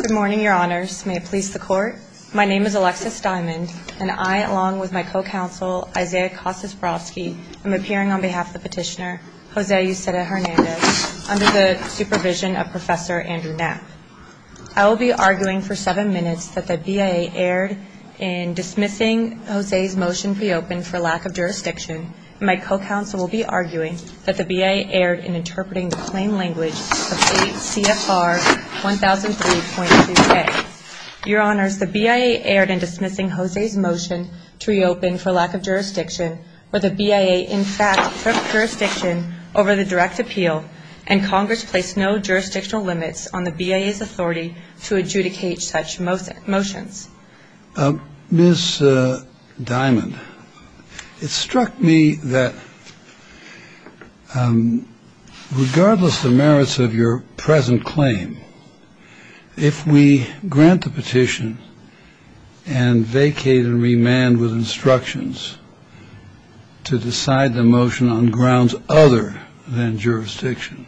Good morning, Your Honors. May it please the Court, my name is Alexis Diamond, and I, along with my co-counsel, Isaiah Kossos-Brosky, am appearing on behalf of Petitioner Jose Euceda Hernandez, under the supervision of Professor Andrew Ness. I will be arguing for seven minutes that the BIA erred in dismissing Jose's motion to reopen for lack of jurisdiction, and my co-counsel will be arguing that the BIA erred in interpreting the plain language of 8 CFR 1003.2K. Your Honors, the BIA erred in dismissing Jose's motion to reopen for lack of jurisdiction, where the BIA, in fact, took jurisdiction over the direct appeal, and Congress placed no jurisdictional limits on the BIA's authority to adjudicate such motions. Ms. Diamond, it struck me that regardless of the merits of your present claim, if we grant the petition and vacate and remand with instructions to decide the motion on grounds other than jurisdiction,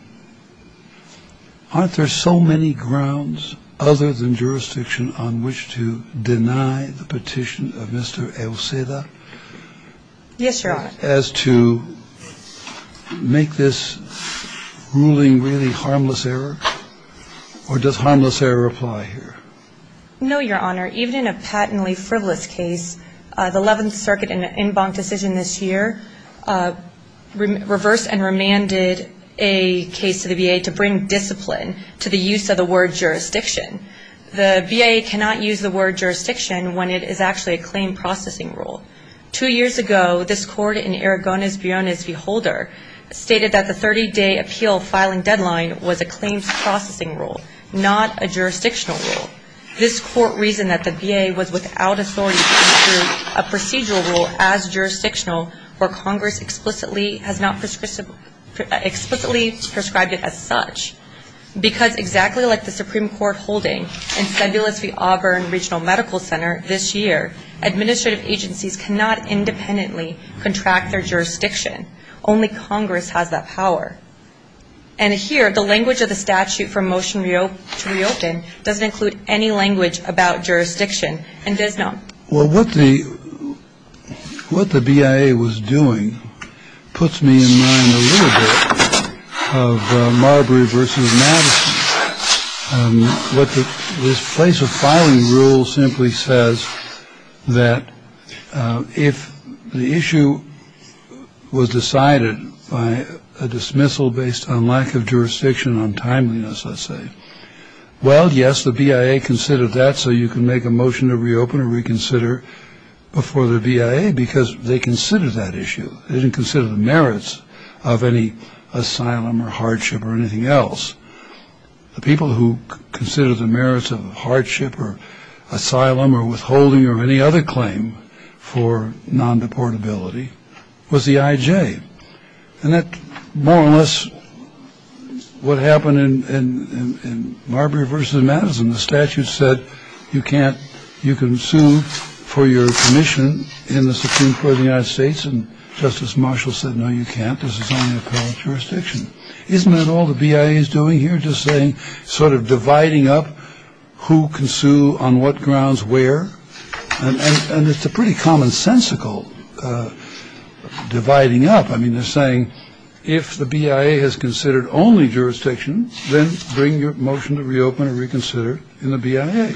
aren't there so many grounds other than jurisdiction on which to deny the petition of Mr. Euceda? Yes, Your Honor. As to make this ruling really harmless error? Or does harmless error apply here? No, Your Honor. Even in a patently privileged case, the 11th Circuit in an en banc decision this year reversed and remanded a case to the BIA to bring discipline to the use of the word jurisdiction. The BIA cannot use the word jurisdiction when it is actually a claim processing rule. Two years ago, this court in Aragonas-Bionis v. Holder stated that the 30-day appeal filing deadline was a claims processing rule, not a jurisdictional rule. This court reasoned that the BIA was without authority to issue a procedural rule as jurisdictional, where Congress explicitly prescribed it as such. Because exactly like the Supreme Court holding in Sebelius v. Auburn Regional Medical Center this year, administrative agencies cannot independently contract their jurisdiction. Only Congress has that power. And here, the language of the statute for motion to reopen doesn't include any language about jurisdiction and does not. Well, what the BIA was doing puts me in mind a little bit of Marbury v. Madison. This place of filing rule simply says that if the issue was decided by a dismissal based on lack of jurisdiction on timeliness, let's say. Well, yes, the BIA considered that so you can make a motion to reopen or reconsider before the BIA because they considered that issue. They didn't consider the merits of any asylum or hardship or anything else. The people who consider the merits of hardship or asylum or withholding or any other claim for non-deportability was the IJ. And that's more or less what happened in Marbury versus Madison. The statute said you can't you can sue for your commission in the Supreme Court of the United States. And Justice Marshall said, no, you can't. This is a jurisdiction. Isn't that all the BIA is doing here? Just saying sort of dividing up who can sue on what grounds where. And it's a pretty commonsensical dividing up. I mean, they're saying if the BIA has considered only jurisdiction, then bring your motion to reopen and reconsider in the BIA.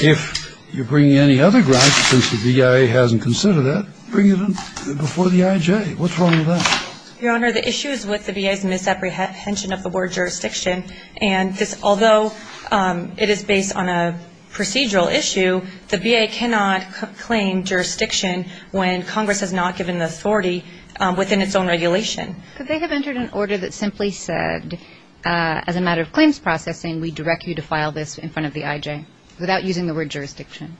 If you're bringing any other grounds, since the BIA hasn't considered that, bring it in before the IJ. What's wrong with that? Your Honor, the issue is with the BIA's misapprehension of the word jurisdiction. And although it is based on a procedural issue, the BIA cannot claim jurisdiction when Congress has not given the authority within its own regulation. But they have entered an order that simply said, as a matter of claims processing, we direct you to file this in front of the IJ without using the word jurisdiction.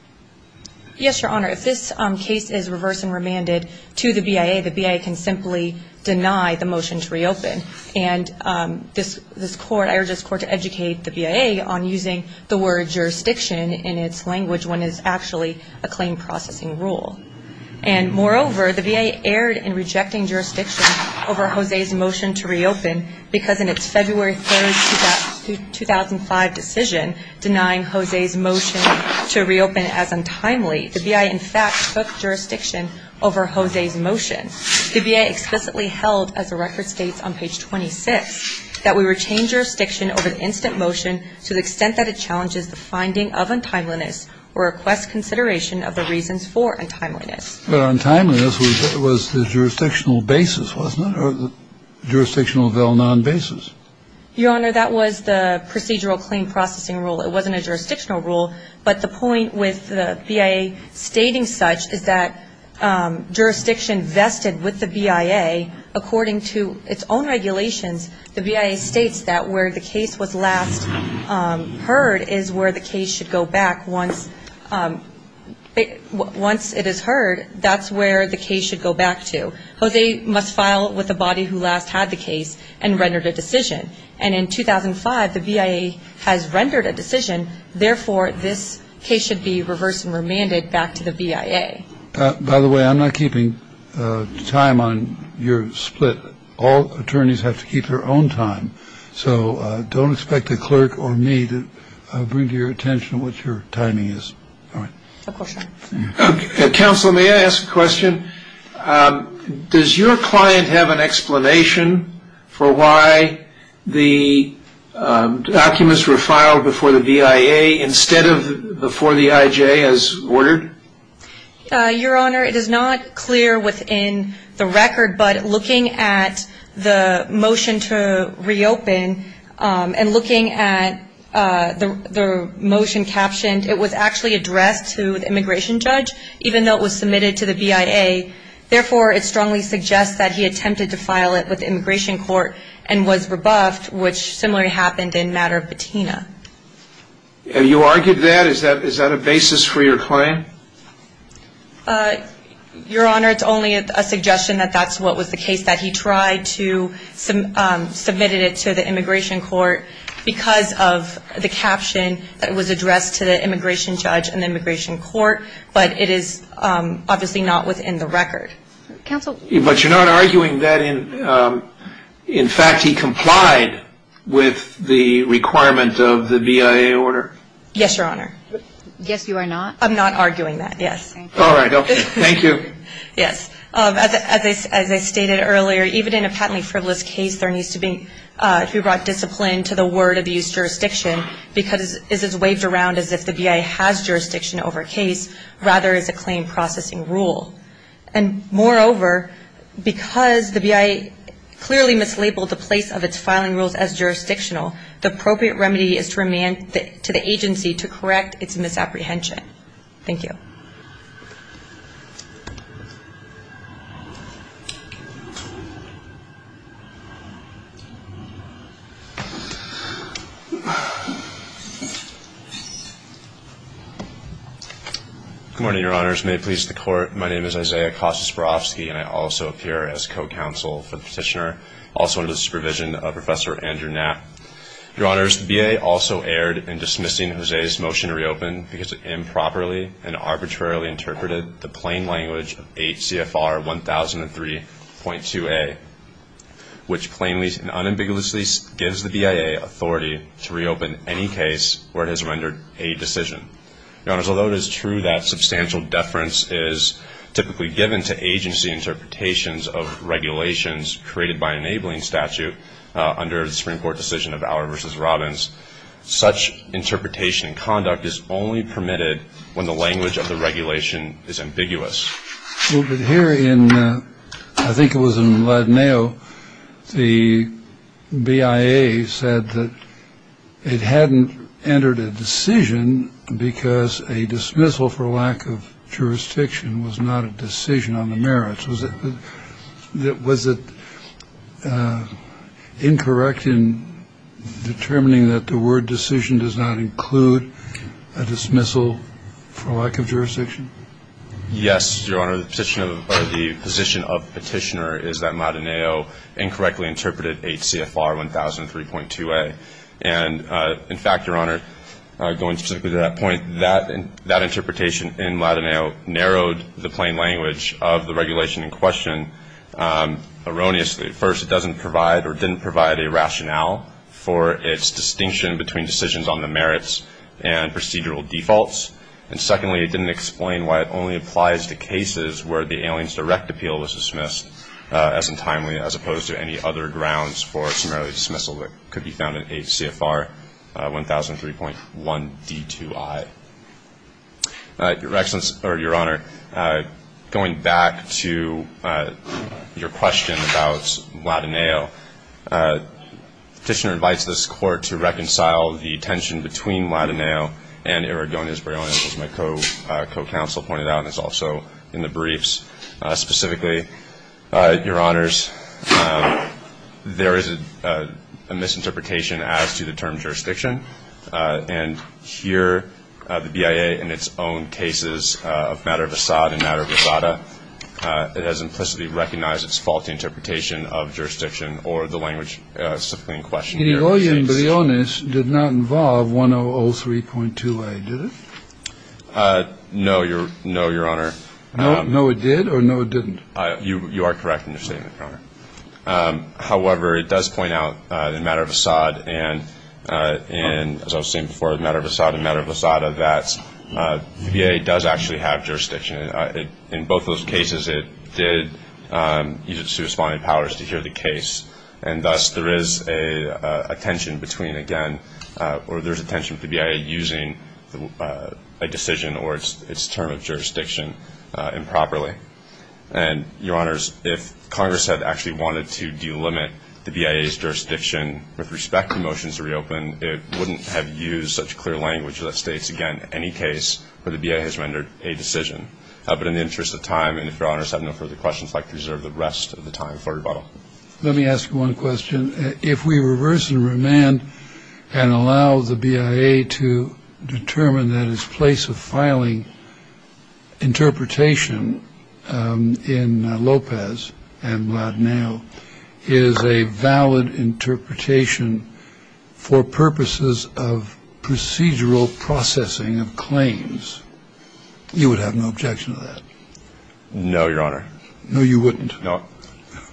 Yes, Your Honor. If this case is reversed and remanded to the BIA, the BIA can simply deny the motion to reopen. And this Court, I urge this Court to educate the BIA on using the word jurisdiction in its language when it's actually a claim processing rule. And moreover, the BIA erred in rejecting jurisdiction over Jose's motion to reopen because in its February 3, 2005 decision denying Jose's motion to reopen as untimely, the BIA, in fact, took jurisdiction over Jose's motion. The BIA explicitly held, as the record states on page 26, that we retain jurisdiction over an instant motion to the extent that it challenges the finding of untimeliness or requests consideration of the reasons for untimeliness. Well, untimeliness was the jurisdictional basis, wasn't it, or jurisdictional non-basis? Your Honor, that was the procedural claim processing rule. It wasn't a jurisdictional rule, but the point with the BIA stating such is that jurisdiction vested with the BIA, according to its own regulations, the BIA states that where the case was last heard is where the case should go back once it is heard. That's where the case should go back to. Jose must file with the body who last had the case and rendered a decision. And in 2005, the BIA has rendered a decision. Therefore, this case should be reversed and remanded back to the BIA. By the way, I'm not keeping time on your split. All attorneys have to keep their own time. So don't expect the clerk or me to bring to your attention what your timing is. Counsel, may I ask a question? Does your client have an explanation for why the documents were filed before the BIA instead of before the IJ as ordered? Your Honor, it is not clear within the record, but looking at the motion to reopen and looking at the motion captioned, it was actually addressed to the immigration judge, even though it was submitted to the BIA. Therefore, it strongly suggests that he attempted to file it with the immigration court and was rebuffed, which similarly happened in matter of patina. You argued that? Is that a basis for your claim? Your Honor, it's only a suggestion that that's what was the case, that he tried to submit it to the immigration court because of the caption that was addressed to the immigration judge and immigration court, but it is obviously not within the record. But you're not arguing that in fact he complied with the requirements of the BIA order? Yes, Your Honor. Yes, you are not? I'm not arguing that, yes. All right. Thank you. Yes, as I stated earlier, even in a patently privileged case, there needs to be, if you brought discipline to the word abuse jurisdiction, because it is waved around as if the BIA has jurisdiction over a case, rather as a claim processing rule. And moreover, because the BIA clearly mislabeled the place of its filing rules as jurisdictional, the appropriate remedy is remanded to the agency to correct its misapprehension. Thank you. Good morning, Your Honors. May it please the Court, my name is Isaiah Kostasparovsky, and I also appear as co-counsel for the petitioner, also under the supervision of Professor Andrew Knapp. Your Honors, the BIA also erred in dismissing Hosea's motion to reopen because it improperly and arbitrarily interpreted the plain language of 8 CFR 1003.2a, which plainly and unambiguously gives the BIA authority to reopen any case where it has rendered a decision. Your Honors, although it is true that substantial deference is typically given to agency interpretations of regulations created by enabling statute under the Supreme Court decision of Auer v. Robbins, such interpretation and conduct is only permitted when the language of the regulation is ambiguous. Here in, I think it was in Ladino, the BIA said that it hadn't entered a decision because a dismissal for lack of jurisdiction was not a decision on the merits. Was it incorrect in determining that the word decision does not include a dismissal for lack of jurisdiction? Yes, Your Honor, the position of the petitioner is that Ladino incorrectly interpreted 8 CFR 1003.2a, and in fact, Your Honor, going specifically to that point, that interpretation in Ladino narrowed the plain language of the regulation in question erroneously. First, it doesn't provide or didn't provide a rationale for its distinction between decisions on the merits and procedural defaults, and secondly, it didn't explain why it only applies to cases where the alien's direct appeal was dismissed as untimely, as opposed to any other grounds for a summary dismissal that could be found in 8 CFR 1003.1b2i. Your Excellency, or Your Honor, going back to your question about Ladino, the petitioner invites this Court to reconcile the tension between Ladino and Erdogan, as my co-counsel pointed out, and it's also in the briefs. Specifically, Your Honors, there is a misinterpretation as to the term jurisdiction, and here the BIA in its own cases of matter of Assad and matter of Nevada, it has implicitly recognized its faulty interpretation of jurisdiction or the language of subpoena in question. The lawyer in Briones did not involve 1003.2a, did it? No, Your Honor. No, it did, or no, it didn't? You are correct in your statement, Your Honor. However, it does point out in matter of Assad and matter of Nevada that BIA does actually have jurisdiction. In both those cases, it did use its subpoena powers to hear the case, and thus there is a tension between, again, or there's a tension for BIA using a decision or its term of jurisdiction improperly. And, Your Honors, if Congress had actually wanted to delimit the BIA's jurisdiction with respect to motions to reopen, it wouldn't have used such clear language that states, again, any case where the BIA has rendered a decision. But in the interest of time, and if Your Honors have no further questions, I'd like to reserve the rest of the time for rebuttal. Let me ask you one question. If we reverse and remand and allow the BIA to determine that its place of filing interpretation in Lopez and now is a valid interpretation for purposes of procedural processing of claims, you would have no objection to that? No, Your Honor. No, you wouldn't? No.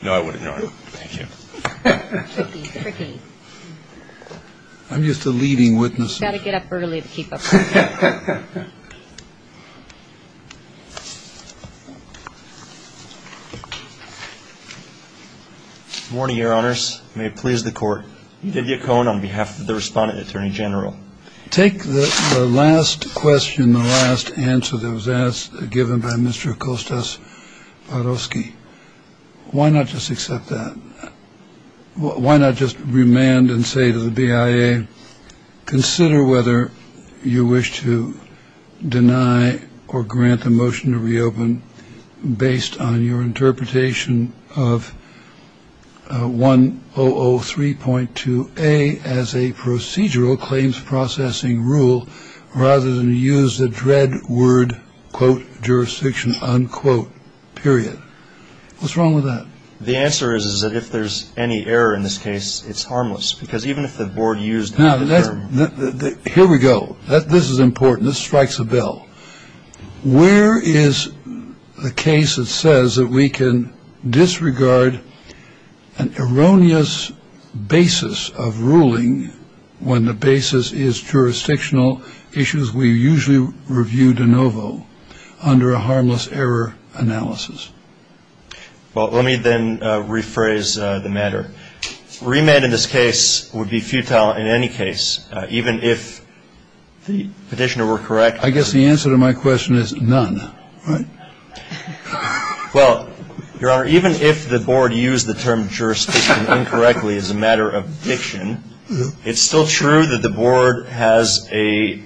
No, I wouldn't. No. Thank you. I'm just a leading witness. You've got to get up early to keep up. Good morning, Your Honors. May it please the Court. On behalf of the respondent, Attorney General. Take the last question, the last answer that was asked, given by Mr. Acosta-Parofsky. Why not just accept that? Why not just remand and say to the BIA, consider whether you wish to deny or grant the motion to reopen based on your interpretation of 1003.2a as a procedural claims processing rule, rather than use the dread word, quote, jurisdiction, unquote, period. What's wrong with that? The answer is that if there's any error in this case, it's harmless. Because even if the board used that term. Here we go. This is important. This strikes a bell. Where is the case that says that we can disregard an erroneous basis of ruling when the basis is jurisdictional issues we usually review de novo under a harmless error analysis? Well, let me then rephrase the matter. Remand in this case would be futile in any case, even if the petitioner were correct. I guess the answer to my question is none. Well, Your Honor, even if the board used the term jurisdiction incorrectly as a matter of fiction, it's still true that the board has an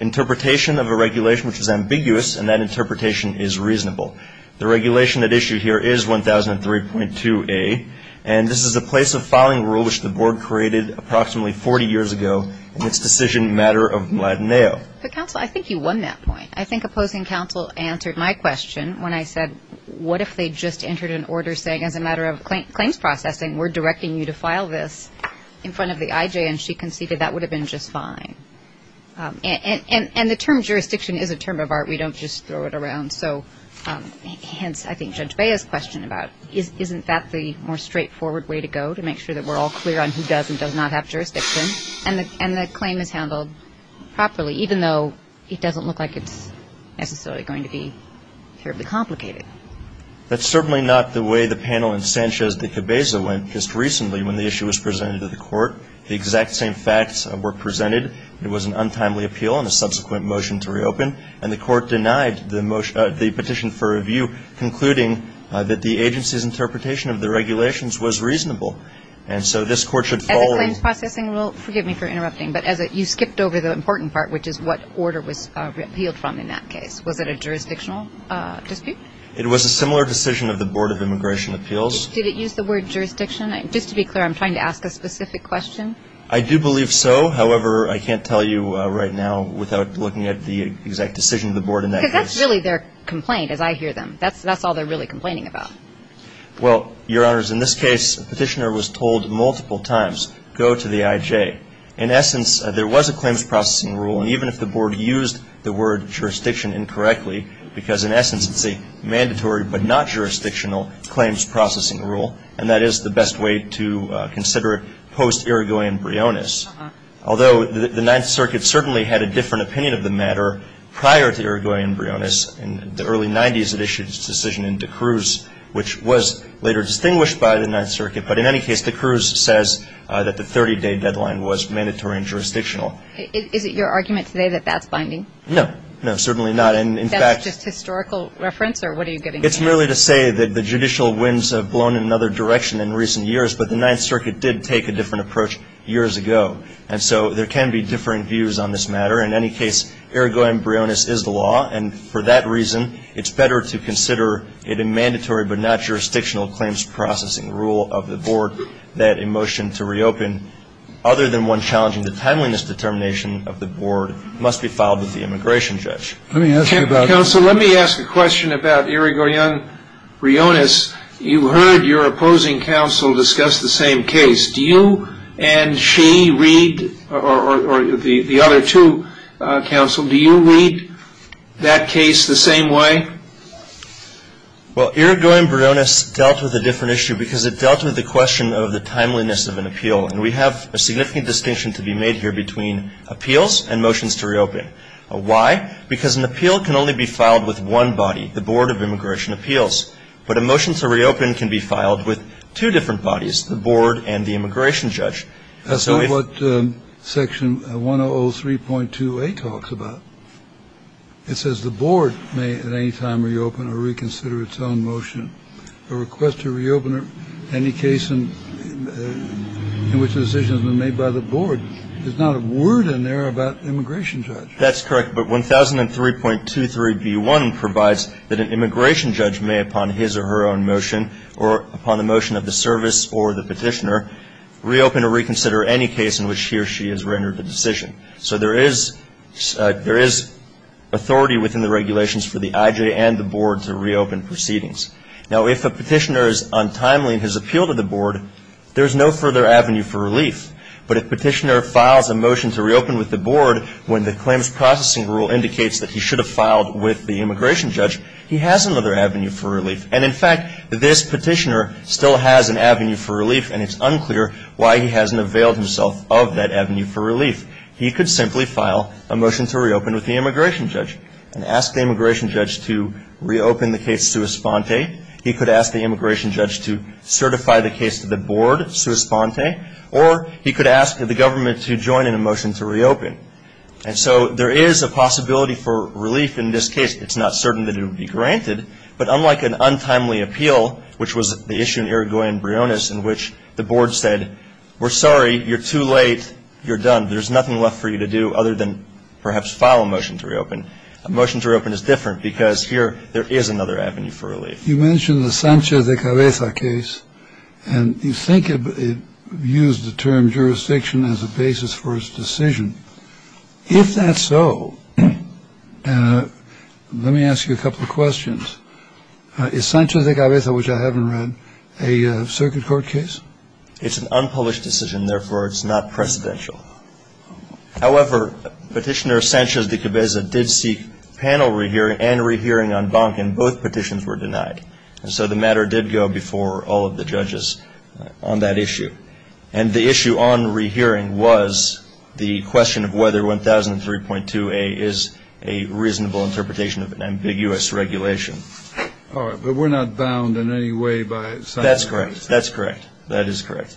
interpretation of a regulation which is ambiguous, and that interpretation is reasonable. The regulation at issue here is 1003.2a. And this is the place of filing rule which the board created approximately 40 years ago in its decision matter of Mladenao. Counsel, I think you won that point. I think opposing counsel answered my question when I said what if they just entered an order saying as a matter of claims processing, we're directing you to file this in front of the IJ, and she conceded that would have been just fine. And the term jurisdiction is a term of art. We don't just throw it around. So hence, I think Judge Beda's question about isn't that the more straightforward way to go to make sure that we're all clear on who does and does not have jurisdiction? And the claim is handled properly, even though it doesn't look like it's necessarily going to be terribly complicated. That's certainly not the way the panel in Sanchez de Cabeza went just recently when the issue was presented to the court. The exact same facts were presented. It was an untimely appeal and a subsequent motion to reopen. And the court denied the petition for review, concluding that the agency's interpretation of the regulations was reasonable. And so this court should follow. As a claims processing, well, forgive me for interrupting, but you skipped over the important part, which is what order was appealed from in that case. Was it a jurisdictional dispute? It was a similar decision of the Board of Immigration Appeals. Did it use the word jurisdiction? Just to be clear, I'm trying to ask a specific question. I do believe so. However, I can't tell you right now without looking at the exact decision of the board in that case. Because that's really their complaint, as I hear them. That's all they're really complaining about. Well, Your Honors, in this case, the petitioner was told multiple times, go to the IJ. In essence, there was a claims processing rule. And even if the board used the word jurisdiction incorrectly, because in essence it's a mandatory but not jurisdictional claims processing rule, and that is the best way to consider it post-Irigoyen-Brionis. Although the Ninth Circuit certainly had a different opinion of the matter prior to Irigoyen-Brionis. In the early 90s, it issued its decision in D'Cruz, which was later distinguished by the Ninth Circuit. But in any case, D'Cruz says that the 30-day deadline was mandatory and jurisdictional. Is it your argument today that that's binding? No. No, certainly not. Is that just historical reference, or what are you getting at? It's merely to say that the judicial winds have blown in another direction in recent years. But the Ninth Circuit did take a different approach years ago. And so there can be different views on this matter. In any case, Irigoyen-Brionis is the law. And for that reason, it's better to consider it a mandatory but not jurisdictional claims processing rule of the board that a motion to reopen, other than one challenging the timeliness determination of the board, must be filed with the immigration judge. Let me ask you about it. Counsel, let me ask a question about Irigoyen-Brionis. You heard your opposing counsel discuss the same case. Do you and she read, or the other two counsel, do you read that case the same way? Well, Irigoyen-Brionis dealt with a different issue because it dealt with the question of the timeliness of an appeal. And we have a significant distinction to be made here between appeals and motions to reopen. Why? Because an appeal can only be filed with one body, the Board of Immigration Appeals. But a motion to reopen can be filed with two different bodies, the board and the immigration judge. That's not what Section 103.2a talks about. It says the board may at any time reopen or reconsider its own motion. A request to reopen any case in which a decision has been made by the board. There's not a word in there about immigration judge. That's correct. But 1003.23b1 provides that an immigration judge may, upon his or her own motion, or upon the motion of the service or the petitioner, reopen or reconsider any case in which he or she has rendered a decision. So, there is authority within the regulations for the IJ and the board to reopen proceedings. Now, if a petitioner is untimely and has appealed to the board, there's no further avenue for relief. But if the petitioner files a motion to reopen with the board, when the claims processing rule indicates that he should have filed with the immigration judge, he has another avenue for relief. And, in fact, this petitioner still has an avenue for relief, and it's unclear why he hasn't availed himself of that avenue for relief. He could simply file a motion to reopen with the immigration judge and ask the immigration judge to reopen the case sua sponte. He could ask the immigration judge to certify the case to the board sua sponte. Or he could ask the government to join in a motion to reopen. And so, there is a possibility for relief in this case. It's not certain that it would be granted, but unlike an untimely appeal, which was the issue in Aragón and Briones in which the board said, we're sorry, you're too late, you're done, there's nothing left for you to do other than perhaps file a motion to reopen, a motion to reopen is different because here there is another avenue for relief. You mentioned the Sanchez de Cabeza case, and you think it used the term jurisdiction as a basis for its decision. If that's so, let me ask you a couple of questions. Is Sanchez de Cabeza, which I haven't read, a circuit court case? It's an unpublished decision. Therefore, it's not presidential. However, Petitioner Sanchez de Cabeza did seek panel rehearing and rehearing on Bonkin. Both petitions were denied. And so, the matter did go before all of the judges on that issue. And the issue on rehearing was the question of whether 1003.2a is a reasonable interpretation of an ambiguous regulation. All right, but we're not bound in any way by Sanchez de Cabeza. That's correct. That is correct.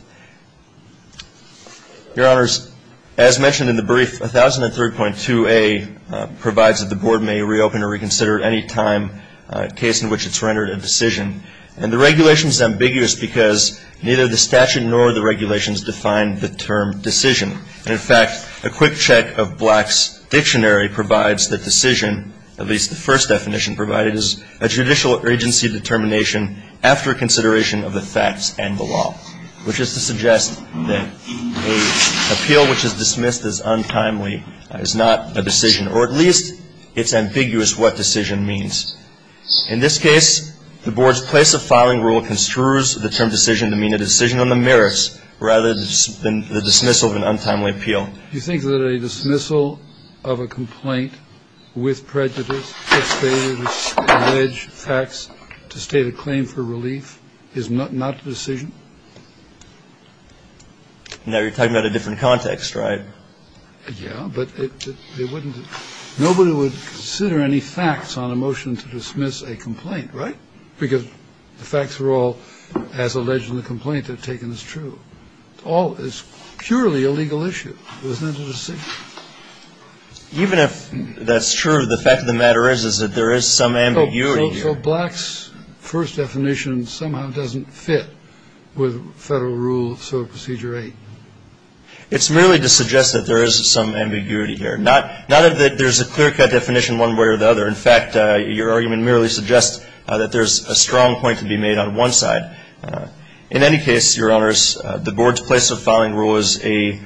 Your Honors, as mentioned in the brief, 1003.2a provides that the Board may reopen or reconsider at any time a case in which it's rendered a decision. And the regulation is ambiguous because neither the statute nor the regulations define the term decision. In fact, a quick check of Black's Dictionary provides the decision, at least the first definition provided, is a judicial urgency determination after consideration of the facts and the law, which is to suggest that an appeal which is dismissed as untimely is not a decision, or at least it's ambiguous what decision means. In this case, the Board's place of filing rule construes the term decision to mean a decision on the merits rather than the dismissal of an untimely appeal. You think that a dismissal of a complaint with prejudice to state a claim for relief is not a decision? Now you're talking about a different context, right? Yeah, but nobody would consider any facts on a motion to dismiss a complaint, right? Because the facts were all, as alleged in the complaint, taken as true. It's purely a legal issue. It's not a decision. Even if that's true, the fact of the matter is that there is some ambiguity here. So Black's first definition somehow doesn't fit with federal rule of procedure 8? It's merely to suggest that there is some ambiguity here. Not that there's a clear-cut definition one way or the other. In fact, your argument merely suggests that there's a strong point to be made on one side. In any case, Your Honors, the Board's place of filing rule is a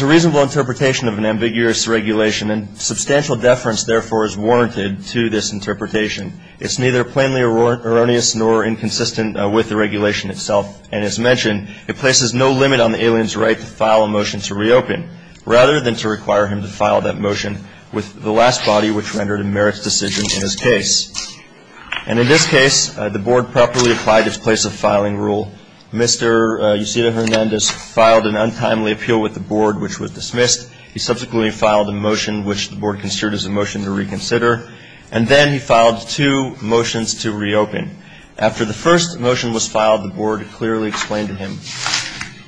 reasonable interpretation of an ambiguous regulation and substantial deference, therefore, is warranted to this interpretation. It's neither plainly erroneous nor inconsistent with the regulation itself. And as mentioned, it places no limit on the alien's right to file a motion to reopen rather than to require him to file that motion with the last body which rendered a merits decision in his case. And in this case, the Board properly applied its place of filing rule. Mr. Yusef Hernandez filed an untimely appeal with the Board which was dismissed. He subsequently filed a motion which the Board considered as a motion to reconsider. And then he filed two motions to reopen. After the first motion was filed, the Board clearly explained to him,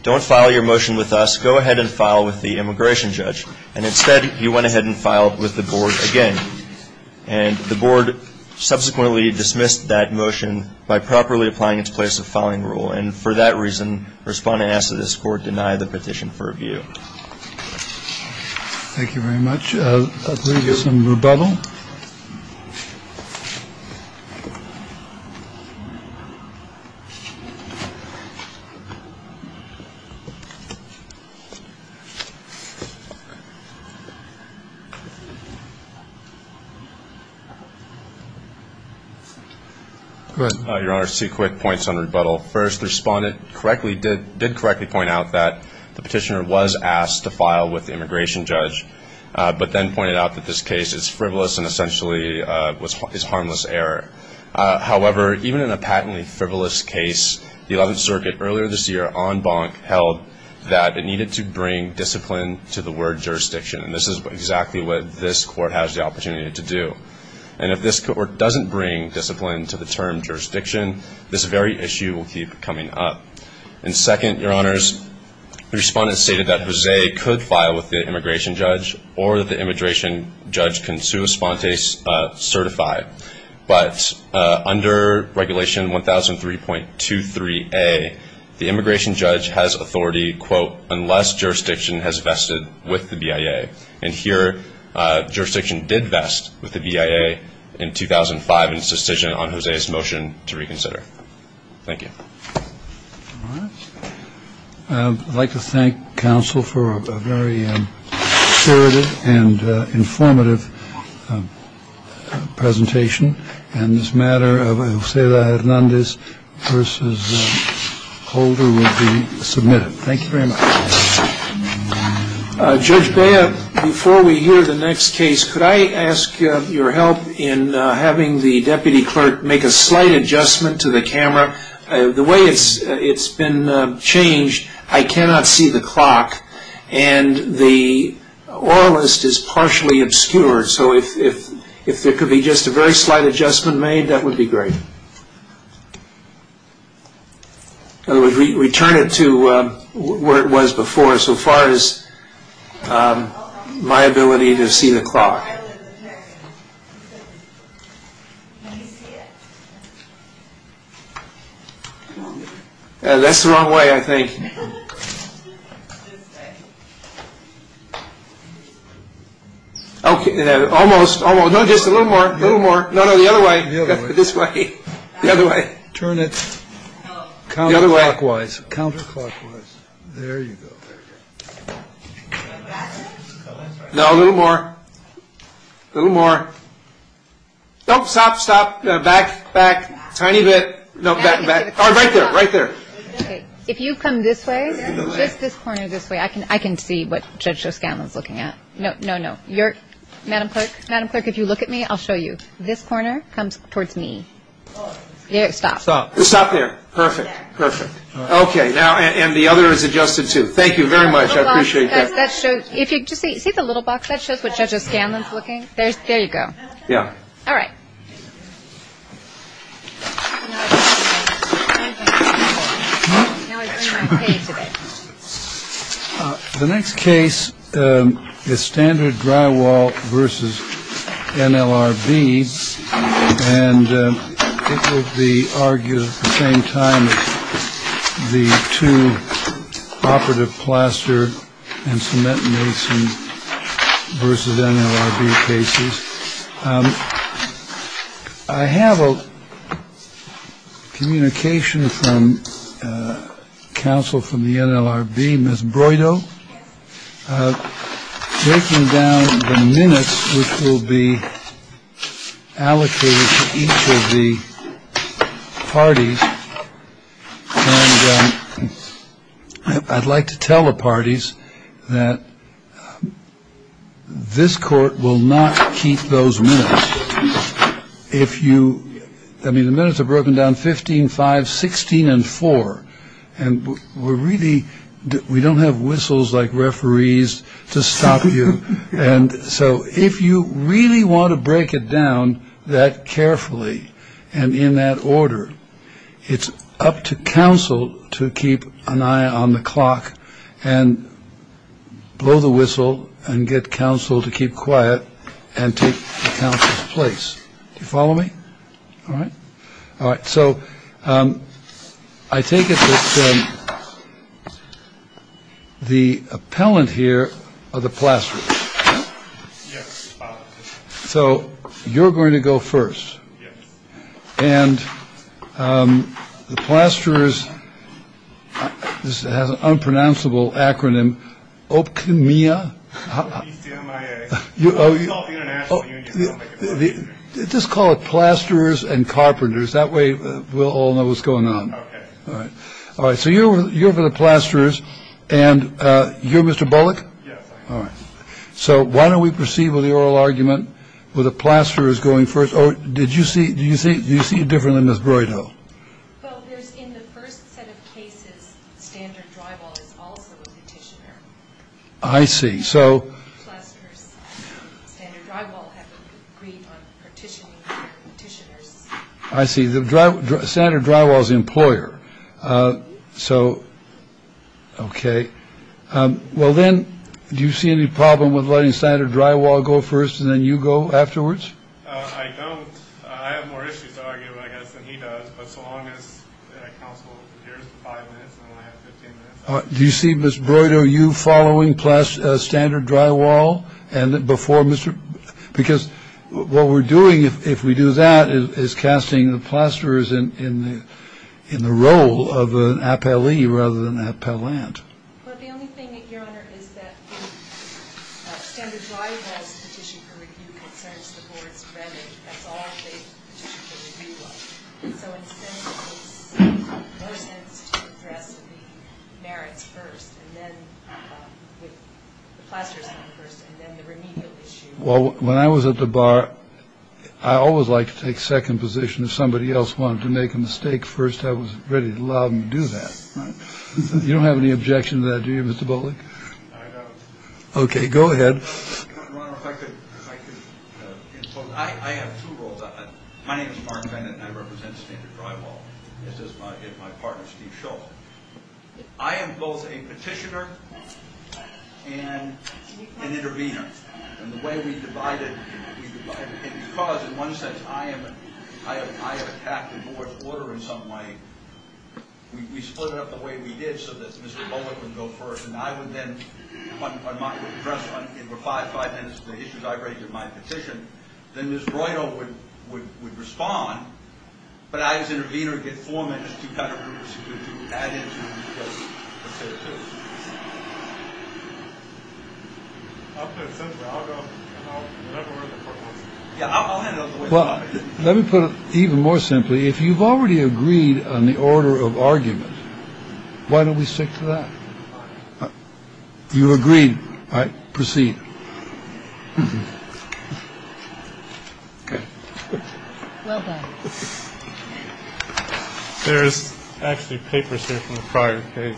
don't file your motion with us, go ahead and file with the immigration judge. And instead, he went ahead and filed with the Board again. And the Board subsequently dismissed that motion by properly applying its place of filing rule. And for that reason, Respondent asked that this Court deny the petition for review. Thank you very much. Let's move to some rebuttal. Your Honor, two quick points on rebuttal. First, the Respondent did correctly point out that the petitioner was asked to file with the immigration judge. But then pointed out that this case is frivolous and essentially is harmless error. However, even in a patently frivolous case, the Eleventh Circuit earlier this year en banc held that it needed to bring discipline to the word jurisdiction. And this is exactly what this Court has the opportunity to do. And if this Court doesn't bring discipline to the term jurisdiction, this very issue will keep coming up. And second, Your Honor, the Respondent stated that Jose could file with the immigration judge or the immigration judge can sua spontes certify. But under Regulation 1003.23a, the immigration judge has authority, quote, unless jurisdiction has vested with the BIA. And here, jurisdiction did vest with the BIA in 2005 in its decision on Jose's motion to reconsider. Thank you. I'd like to thank counsel for a very assertive and informative presentation. And this matter of Jose Hernandez versus Holder will be submitted. Thank you very much. Judge Baya, before we hear the next case, could I ask your help in having the deputy clerk make a slight adjustment to the camera? The way it's been changed, I cannot see the clock. And the oralist is partially obscured. So if there could be just a very slight adjustment made, that would be great. In other words, we turn it to where it was before, so far as my ability to see the clock. That's the wrong way, I think. OK. Almost, almost. Just a little more. A little more. No, no, the other way. This way. The other way. Turn it counterclockwise. Counterclockwise. There you go. No, a little more. A little more. Don't stop. Stop. Back, back. Tiny bit. No, back, back. Right there. Right there. If you come this way, just this corner this way, I can see what Judge Joe Scanlon's looking at. No, no, no. Madam Clerk, if you look at me, I'll show you. This corner comes towards me. There, stop. Stop. Stop there. Perfect, perfect. OK, now, and the other is adjusted, too. Thank you very much. I appreciate that. See the little box that shows what Judge Joe Scanlon's looking at? There you go. Yeah. All right. The next case is standard drywall versus NLRB. And it will be argued at the same time. The two operative plaster and cement medicine versus NLRB cases. I have a communication from counsel from the NLRB. Breaking down the minutes will be allocated to each of the parties. I'd like to tell the parties that this court will not keep those minutes. If you I mean, the minutes are broken down 15, 5, 16 and 4. And we're really we don't have whistles like referees to stop you. And so if you really want to break it down that carefully and in that order, it's up to counsel to keep an eye on the clock and. Blow the whistle and get counsel to keep quiet and take place. You follow me. All right. All right. So I think it's. The appellant here are the plaster. So you're going to go first. And the plaster is an unpronounceable acronym. Mia, you know, just call it plasterers and carpenters. That way we'll all know what's going on. All right. So you're you're the plasterers and you're Mr. Bullock. Yeah. All right. So why don't we proceed with the oral argument with a plaster is going first. Oh, did you see. Do you think you see different than this? Right. I see. So I see. Senator Drywall's employer. So. OK. Well, then do you see any problem with letting Senator Drywall go first and then you go afterwards? I don't. I have more issues. He does. Do you see this? Are you following plus standard drywall? And before Mr. Because what we're doing, if we do that, is casting the plasterers in the in the role of an appellee rather than appellant. Your Honor. Well, when I was at the bar, I always like to take second position. If somebody else wanted to make a mistake first, I was ready to do that. You don't have any objection to that, do you, Mr. Bullock? OK, go ahead. My name is Martin Bennett and I represent the drywall. This is my partner. I am both a petitioner and an intervener. And the way we divide it is because in one sense, I am. I have a captive order in some way. We split it up the way we did so that Mr. Bullock would go first. And I would then put my address in for five, five minutes. Then this would respond. But I, as intervener, get four minutes. Well, let me put it even more simply, if you've already agreed on the order of argument, why don't we stick to that? You agree. I proceed. There's actually papers in the prior. OK.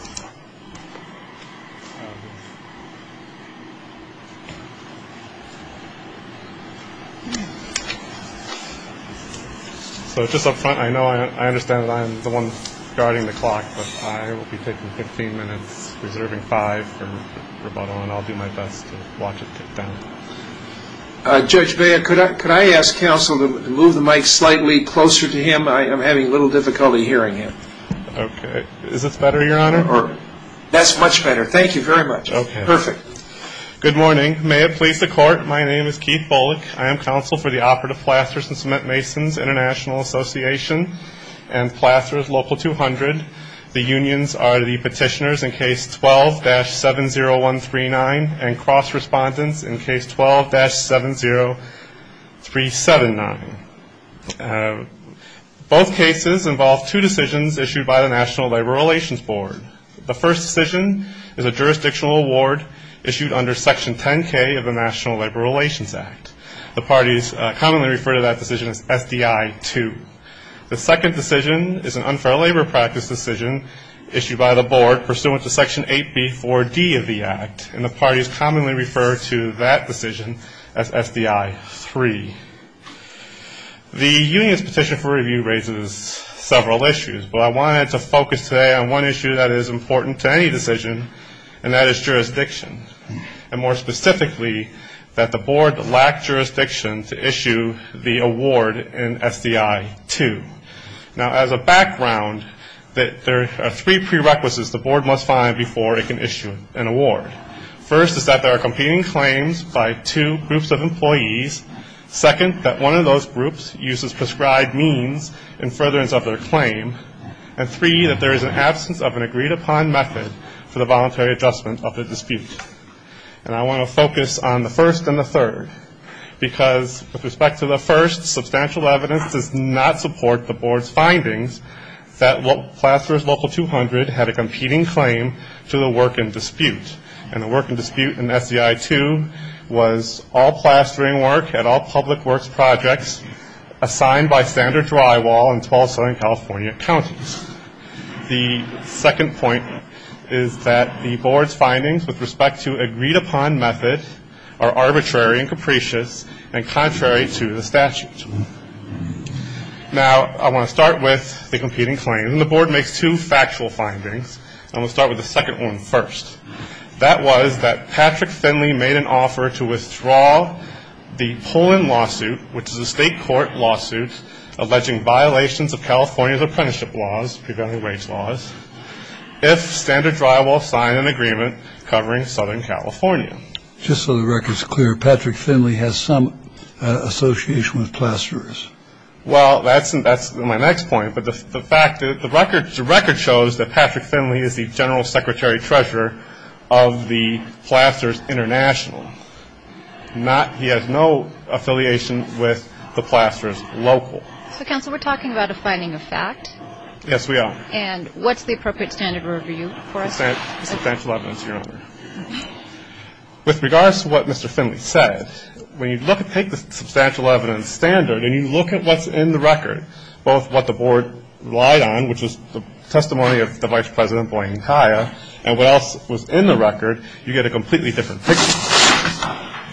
So it's just up front. I know I understand. I'm the one starting the clock. But I will be taking 15 minutes, reserving five for rebuttal, and I'll do my best to watch it. Judge, could I ask counsel to move the mic slightly closer to him? I'm having a little difficulty hearing him. OK. Is this better, Your Honor? That's much better. Thank you very much. Perfect. Good morning. May it please the Court, my name is Keith Bullock. I am counsel for the Operative Plasters and Cement Masons International Association and Plasters Local 200. The unions are the petitioners in Case 12-70139 and cross-respondents in Case 12-70379. Both cases involve two decisions issued by the National Labor Relations Board. The first decision is a jurisdictional award issued under Section 10-K of the National Labor Relations Act. The parties commonly refer to that decision as SDI 2. The second decision is an unfair labor practice decision issued by the Board pursuant to Section 8B-4D of the Act, and the parties commonly refer to that decision as SDI 3. The union's petition for review raises several issues, but I wanted to focus today on one issue that is important to any decision, and that is jurisdiction. And more specifically, that the Board lacked jurisdiction to issue the award in SDI 2. Now, as a background, there are three prerequisites the Board must find before it can issue an award. First is that there are competing claims by two groups of employees. Second, that one of those groups uses prescribed means in furtherance of their claim. And three, that there is an absence of an agreed-upon method for the voluntary adjustment of the dispute. And I want to focus on the first and the third, because with respect to the first, substantial evidence does not support the Board's findings that Plasterers Local 200 had a competing claim to the work in dispute. And the work in dispute in SDI 2 was all plastering work at all public works projects assigned by standard drywall in 12 Southern California counties. The second point is that the Board's findings with respect to agreed-upon methods are arbitrary and capricious and contrary to the statute. Now, I want to start with the competing claims. And the Board makes two factual findings. I'm going to start with the second one first. That was that Patrick Finley made an offer to withdraw the Pullen lawsuit, which is a state court lawsuit alleging violations of California's apprenticeship laws, evaluation laws, if standard drywall signed an agreement covering Southern California. Just so the record's clear, Patrick Finley has some association with Plasterers. Well, that's my next point. But the fact is the record shows that Patrick Finley is the general secretary treasurer of the Plasterers International. He has no affiliation with the Plasterers Local. So, counsel, we're talking about a finding of fact. Yes, we are. And what's the appropriate standard review for it? Substantial evidence, your honor. With regards to what Mr. Finley says, when you take the substantial evidence standard and you look at what's in the record, both what the Board relied on, which was the testimony of the vice president, Blaine Kaya, and what else was in the record, you get a completely different picture.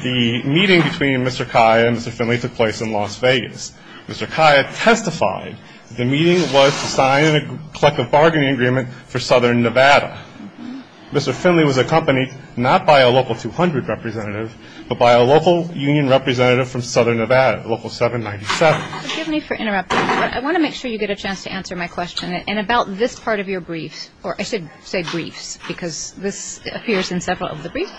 The meeting between Mr. Kaya and Mr. Finley took place in Las Vegas. Mr. Kaya testified the meeting was to sign a collective bargaining agreement for Southern Nevada. Mr. Finley was accompanied not by a Local 200 representative, but by a local union representative from Southern Nevada, Local 797. Excuse me for interrupting, but I want to make sure you get a chance to answer my question. And about this part of your brief, or I should say brief because this appears in several of the briefs,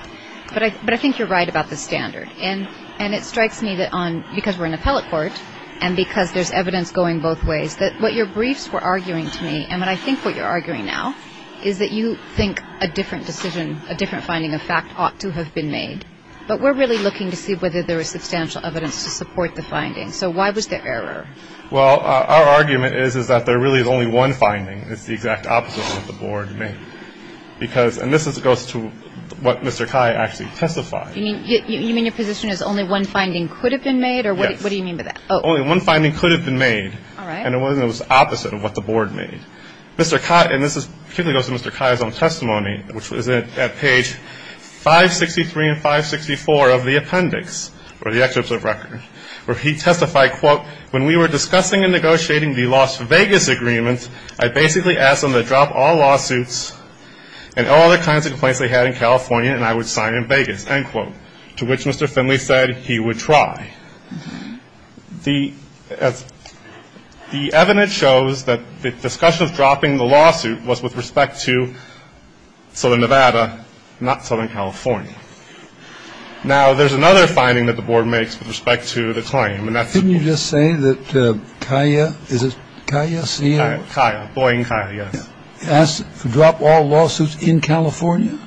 but I think you're right about the standard. And it strikes me that because we're in the appellate court and because there's evidence going both ways, that what your briefs were arguing to me, and I think what you're arguing now, is that you think a different decision, a different finding of fact ought to have been made. But we're really looking to see whether there is substantial evidence to support the finding. So why was there error? Well, our argument is that there really is only one finding. It's the exact opposite of what the Board made. And this goes to what Mr. Kaya actually testified. You mean your position is only one finding could have been made? Yes. What do you mean by that? Only one finding could have been made. All right. And it was the opposite of what the Board made. Mr. Kaya, and this goes to Mr. Kaya's own testimony, which is at page 563 and 564 of the appendix, or the excerpts of records, where he testified, quote, when we were discussing and negotiating the Las Vegas agreement, I basically asked them to drop all lawsuits and all the kinds of complaints we had in California, and I would sign it in Vegas, end quote, to which Mr. Finley said he would try. The evidence shows that the discussion of dropping the lawsuit was with respect to Southern Nevada, not Southern California. Now, there's another finding that the Board makes with respect to the claim. Couldn't you just say that Kaya, is this Kaya? Kaya, Floyd and Kaya. Asked to drop all lawsuits in California?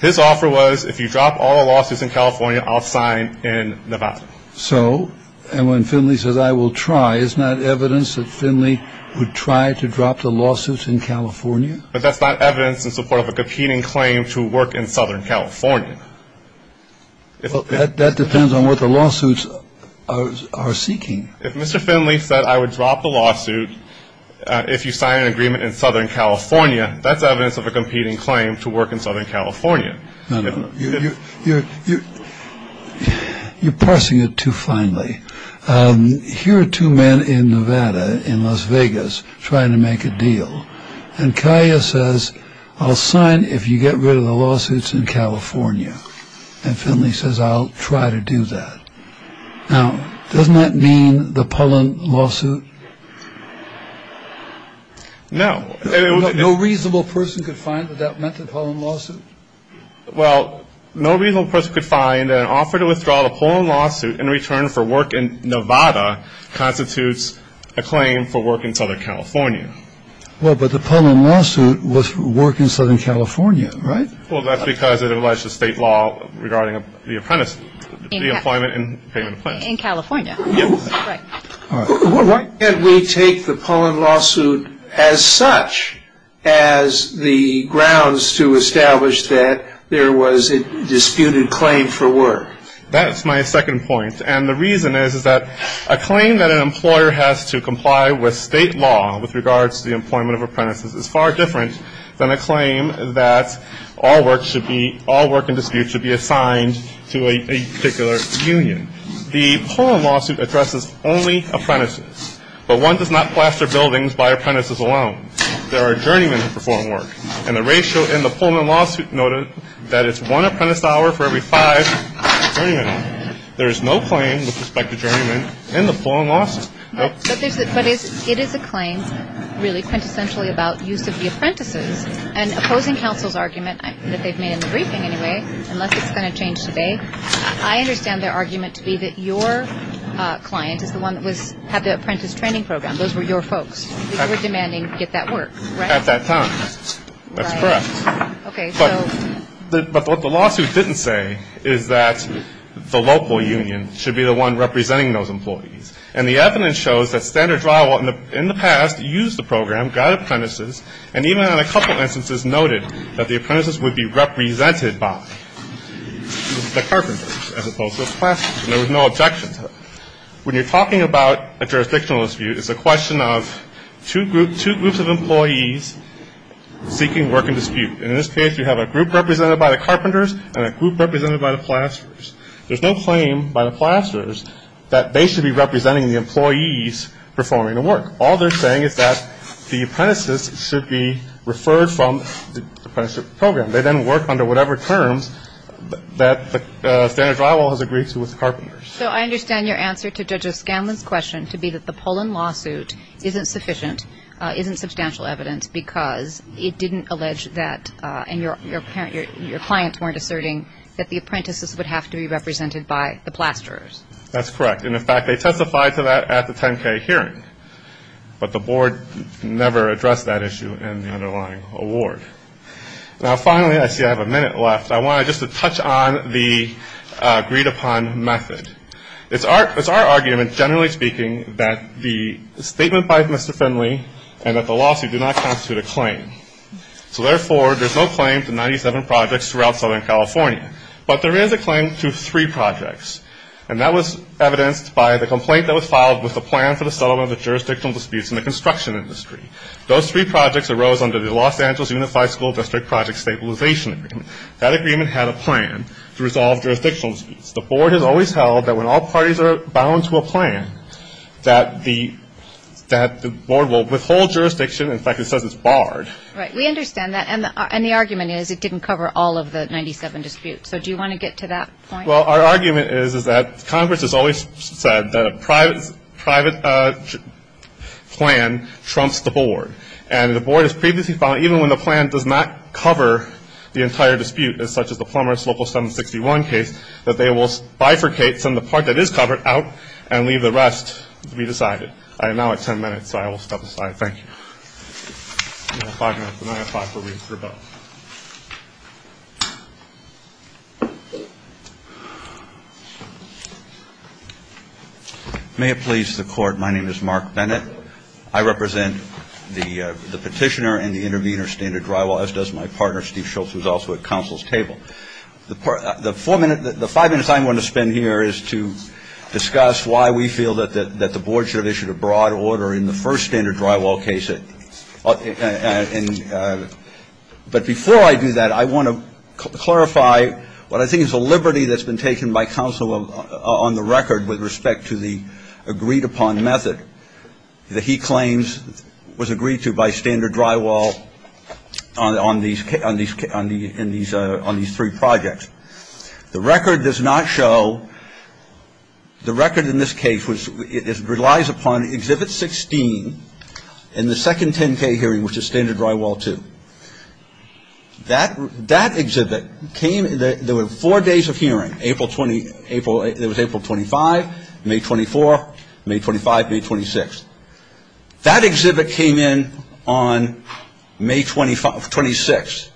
His offer was if you drop all lawsuits in California, I'll sign in Nevada. So, and when Finley said I will try, is that evidence that Finley would try to drop the lawsuits in California? That's not evidence in support of a continuing claim to work in Southern California. Well, that depends on what the lawsuits are seeking. If Mr. Finley said I would drop the lawsuit if you sign an agreement in Southern California, that's evidence of a competing claim to work in Southern California. No, no. You're parsing it too finely. Here are two men in Nevada, in Las Vegas, trying to make a deal. And Kaya says, I'll sign if you get rid of the lawsuits in California. And Finley says, I'll try to do that. Now, doesn't that mean the Pullen lawsuit? No. No reasonable person could find that that meant the Pullen lawsuit? Well, no reasonable person could find an offer to withdraw a Pullen lawsuit in return for work in Nevada constitutes a claim for work in Southern California. Well, but the Pullen lawsuit was work in Southern California, right? Well, that's because it was a state law regarding the appointment and payment plan. In California. Why can't we take the Pullen lawsuit as such as the grounds to establish that there was a disputed claim for work? That's my second point. And the reason is that a claim that an employer has to comply with state law with regards to the employment of apprentices is far different than a claim that all work in dispute should be assigned to a particular union. The Pullen lawsuit addresses only apprentices. But one does not plaster buildings by apprentices alone. There are journeymen who perform work. And the ratio in the Pullen lawsuit noted that it's one apprentice hour for every five journeymen. There is no claim with respect to journeymen in the Pullen lawsuit. But it is a claim really quintessentially about use of the apprentices. And opposing counsel's argument that they've made in the briefing anyway, unless it's going to change today, I understand their argument to be that your client is the one that would have the apprentice training program. Those were your folks. You were demanding to get that work, right? At that time. That's correct. But what the lawsuit didn't say is that the local union should be the one representing those employees. And the evidence shows that Standard Drawable in the past used the program, got apprentices, and even in a couple instances noted that the apprentices would be represented by the carpenters as opposed to the plasters. And there was no objection. When you're talking about a jurisdictional dispute, it's a question of two groups of employees seeking work in dispute. And in this case, you have a group represented by the carpenters and a group represented by the plasters. There's no claim by the plasters that they should be representing the employees performing the work. All they're saying is that the apprentices should be referred from the apprenticeship program. They then work under whatever terms that Standard Drawable has agreed to with the carpenters. So I understand your answer to Judge O'Scanlan's question to be that the Pullen lawsuit isn't sufficient, isn't substantial evidence because it didn't allege that, and your clients weren't asserting, that the apprentices would have to be represented by the plasters. That's correct. And, in fact, they testified to that at the 10K hearing. But the board never addressed that issue in the underlying award. Now, finally, I see I have a minute left. So I wanted just to touch on the agreed-upon method. It's our argument, generally speaking, that the statement by Mr. Finley and that the lawsuit do not constitute a claim. So, therefore, there's no claim to 97 projects throughout Southern California. But there is a claim to three projects. And that was evidenced by the complaint that was filed with the plan for the settlement of jurisdictional disputes in the construction industry. Those three projects arose under the Los Angeles Unified School District project stabilization agreement. That agreement had a plan to resolve jurisdictional disputes. The board has always held that when all parties are bound to a plan, that the board will withhold jurisdiction. In fact, it says it's barred. Right. We understand that. And the argument is it didn't cover all of the 97 disputes. So do you want to get to that point? Well, our argument is that Congress has always said the private plan trumps the board. And the board has previously found that even when the plan does not cover the entire dispute, such as the former local 761 case, that they will bifurcate from the part that is covered out and leave the rest to be decided. I am now at ten minutes, so I will stop the slide. Thank you. May it please the Court, my name is Mark Bennett. I represent the petitioner and the intervener standard drywall, as does my partner, Steve Schultz, who is also at counsel's table. The five minutes I'm going to spend here is to discuss why we feel that the board should have issued a broad order in the first standard drywall case. But before I do that, I want to clarify what I think is a liberty that's been taken by counsel on the record with respect to the agreed upon method. The heat claims was agreed to by standard drywall on these three projects. The record does not show, the record in this case relies upon Exhibit 16 in the second 10K hearing, which is standard drywall two. That exhibit came, there were four days of hearing, April 25, May 24, May 25, May 26. That exhibit came in on May 26.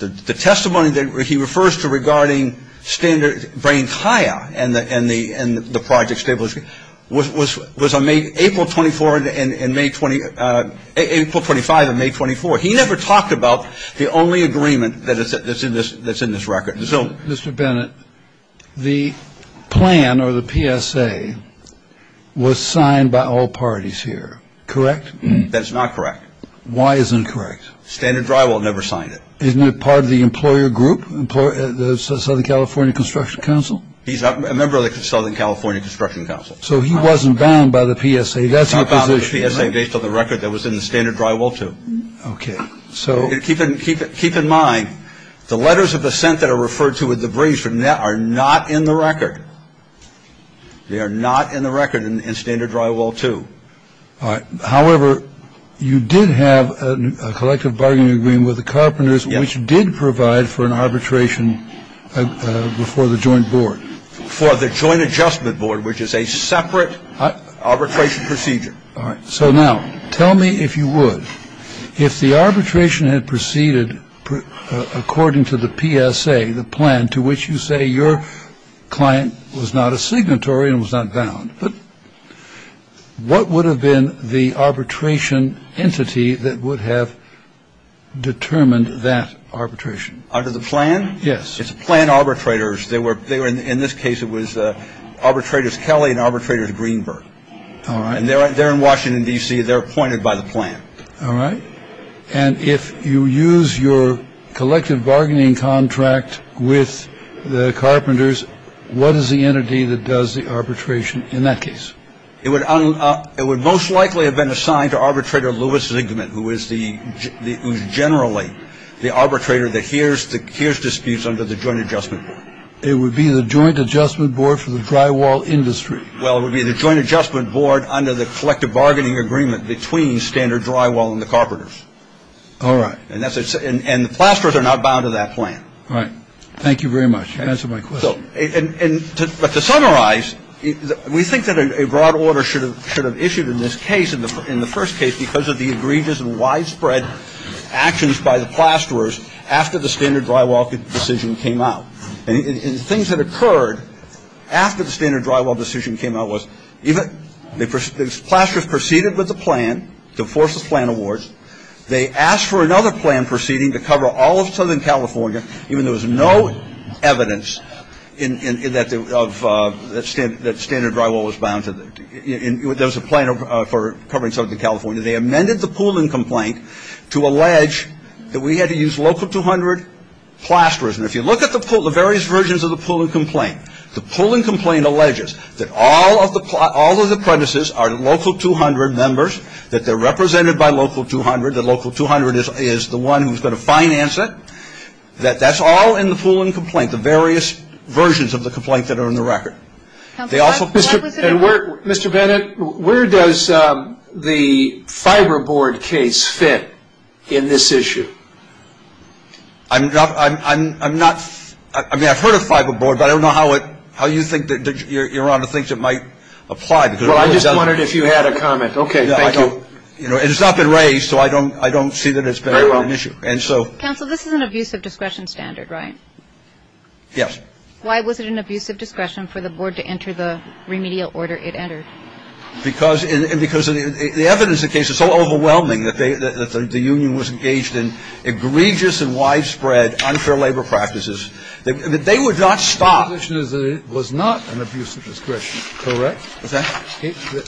The testimony that he refers to regarding standard drain tire and the project stabilization was on April 24 and May 20, April 25 and May 24. He never talked about the only agreement that's in this record. So, Mr. Bennett, the plan or the PSA was signed by all parties here, correct? That's not correct. Why is it incorrect? Standard drywall never signed it. Isn't it part of the employer group, the Southern California Construction Council? He's a member of the Southern California Construction Council. So he wasn't bound by the PSA. I found the PSA based on the record that was in the standard drywall two. Okay. Keep in mind, the letters of assent that are referred to with the breach are not in the record. They are not in the record in standard drywall two. However, you did have a collective bargaining agreement with the carpenters, which did provide for an arbitration before the joint board. For the joint adjustment board, which is a separate arbitration procedure. All right. So now tell me if you would. If the arbitration had proceeded according to the PSA, the plan to which you say your client was not a signatory and was not bound, what would have been the arbitration entity that would have determined that arbitration? Under the plan? Yes. It's plan arbitrators. They were in this case. It was arbitrators. Kelly and arbitrators. Greenberg. All right. They're in Washington, D.C. They're appointed by the plan. All right. And if you use your collective bargaining contract with the carpenters, what is the entity that does the arbitration? In that case, it would it would most likely have been assigned to arbitrator. Lewis is ignorant. Who is the generally the arbitrator? Here's the here's disputes under the joint adjustment. It would be the joint adjustment board for the drywall industry. Well, it would be the joint adjustment board under the collective bargaining agreement between the standard drywall and the carpenters. All right. And that's it. And the plasters are not bound to that plan. All right. Thank you very much. And that's what I thought. And to summarize, we think that a broad order should have should have issued in this case. And in the first case, because of the egregious and widespread actions by the plasterers after the standard drywall decision came out, and things that occurred after the standard drywall decision came out was, the plasterers proceeded with the plan to force the plan awards. They asked for another plan proceeding to cover all of Southern California, even though there was no evidence that standard drywall was bound to that. There was a plan for covering Southern California. They amended the pooling complaint to allege that we had to use local 200 plasters. And if you look at the various versions of the pooling complaint, the pooling complaint alleges that all of the premises are local 200 members, that they're represented by local 200, that local 200 is the one who's going to finance it, that that's all in the pooling complaint, the various versions of the complaint that are in the record. Mr. Bennett, where does the fiber board case fit in this issue? I mean, I've heard of fiber board, but I don't know how you think you're on to things that might apply. Well, I just wondered if you had a comment. Okay, thank you. And it's not been raised, so I don't see that it's been an issue. Counsel, this is an abusive discretion standard, right? Yes. Why was it an abusive discretion for the board to enter the remedial order it entered? Because the evidence of the case is so overwhelming that the union was engaged in egregious and widespread unfair labor practices. They would not stop. The conclusion is that it was not an abusive discretion, correct? The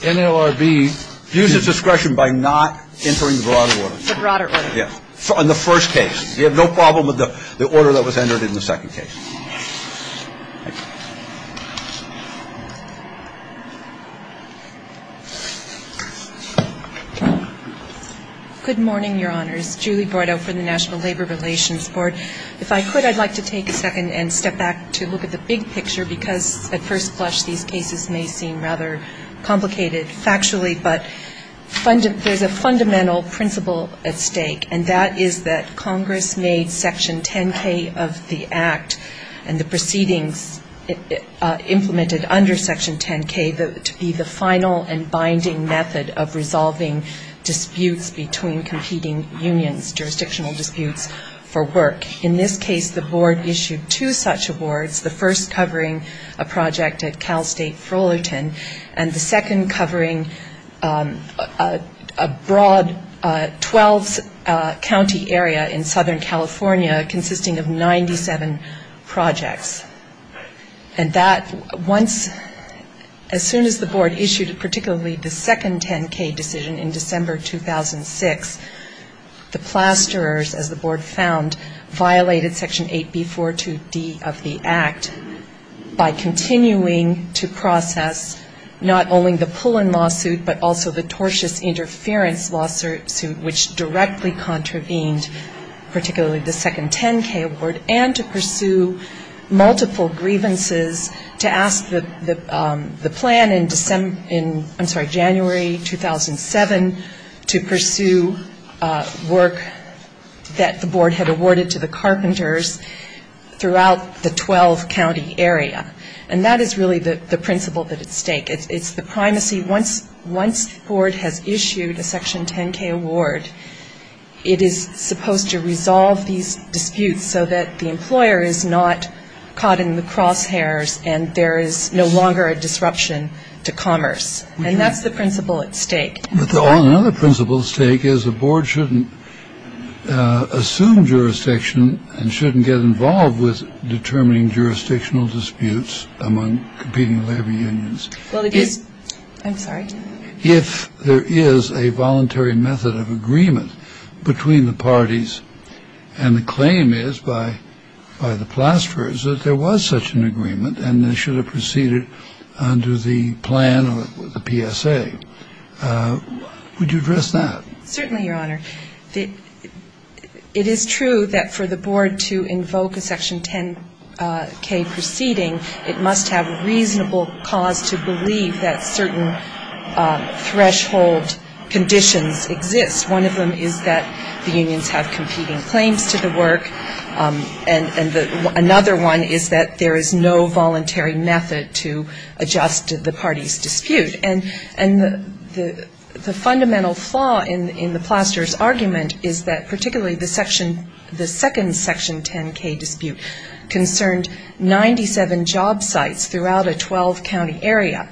NLRB views its discretion by not entering the broader order. The broader order. Yes, in the first case. We have no problem with the order that was entered in the second case. Good morning, Your Honors. Julie Bordeaux for the National Labor Relations Board. If I could, I'd like to take a second and step back to look at the big picture, because at first blush, these cases may seem rather complicated factually, but there's a fundamental principle at stake, and that is that Congress made Section 10K of the Act and the proceedings implemented under Section 10K to be the final and binding method of resolving disputes between competing unions, jurisdictional disputes for work. In this case, the board issued two such awards, the first covering a project at Cal State Fullerton, and the second covering a broad 12-county area in Southern California consisting of 97 projects. And that, as soon as the board issued particularly the second 10K decision in December 2006, the plasterers, as the board found, violated Section 8B42D of the Act by continuing to process not only the Pullen lawsuit, but also the tortious interference lawsuit, which directly contravened particularly the second 10K award, and to pursue multiple grievances to ask the plan in January 2007 to pursue work that the board had awarded to the carpenters throughout the 12-county area. And that is really the principle at stake. It's the primacy. Once the board has issued a Section 10K award, it is supposed to resolve these disputes so that the employer is not caught in the crosshairs and there is no longer a disruption to commerce. And that's the principle at stake. Another principle at stake is the board shouldn't assume jurisdiction and shouldn't get involved with determining jurisdictional disputes among competing labor unions. If there is a voluntary method of agreement between the parties, and the claim is by the plasterers that there was such an agreement and they should have proceeded under the plan of the PSA, Certainly, Your Honor. It is true that for the board to invoke a Section 10K proceeding, it must have a reasonable cause to believe that certain threshold conditions exist. One of them is that the unions have competing claims to the work, and another one is that there is no voluntary method to adjust the parties' dispute. And the fundamental flaw in the plasterer's argument is that particularly the second Section 10K dispute concerned 97 job sites throughout a 12-county area.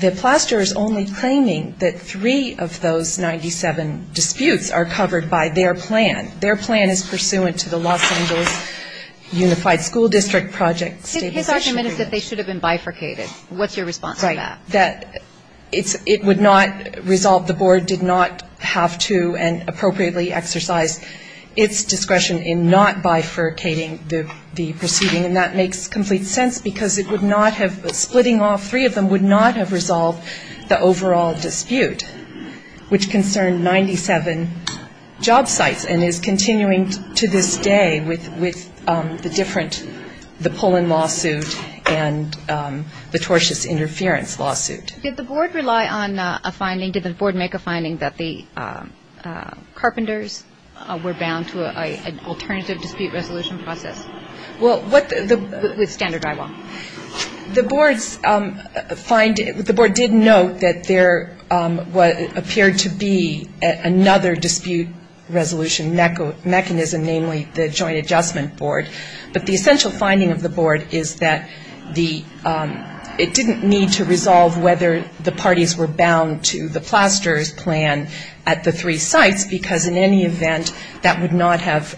The plasterer is only claiming that three of those 97 disputes are covered by their plan. Their plan is pursuant to the Los Angeles Unified School District Project. His argument is that they should have been bifurcated. What's your response to that? That it would not resolve-the board did not have to and appropriately exercise its discretion in not bifurcating the proceeding. And that makes complete sense because it would not have-splitting all three of them would not have resolved the overall dispute, which concerned 97 job sites, and is continuing to this day with the different-the Poland lawsuit and the tortious interference lawsuit. Did the board rely on a finding-did the board make a finding that the carpenters were bound to an alternative dispute resolution process? Well, what the- The standard eyewall. The board's finding-the board did note that there appeared to be another dispute resolution mechanism, namely the joint adjustment board. But the essential finding of the board is that the-it didn't need to resolve whether the parties were bound to the plasterer's plan at the three sites because in any event, that would not have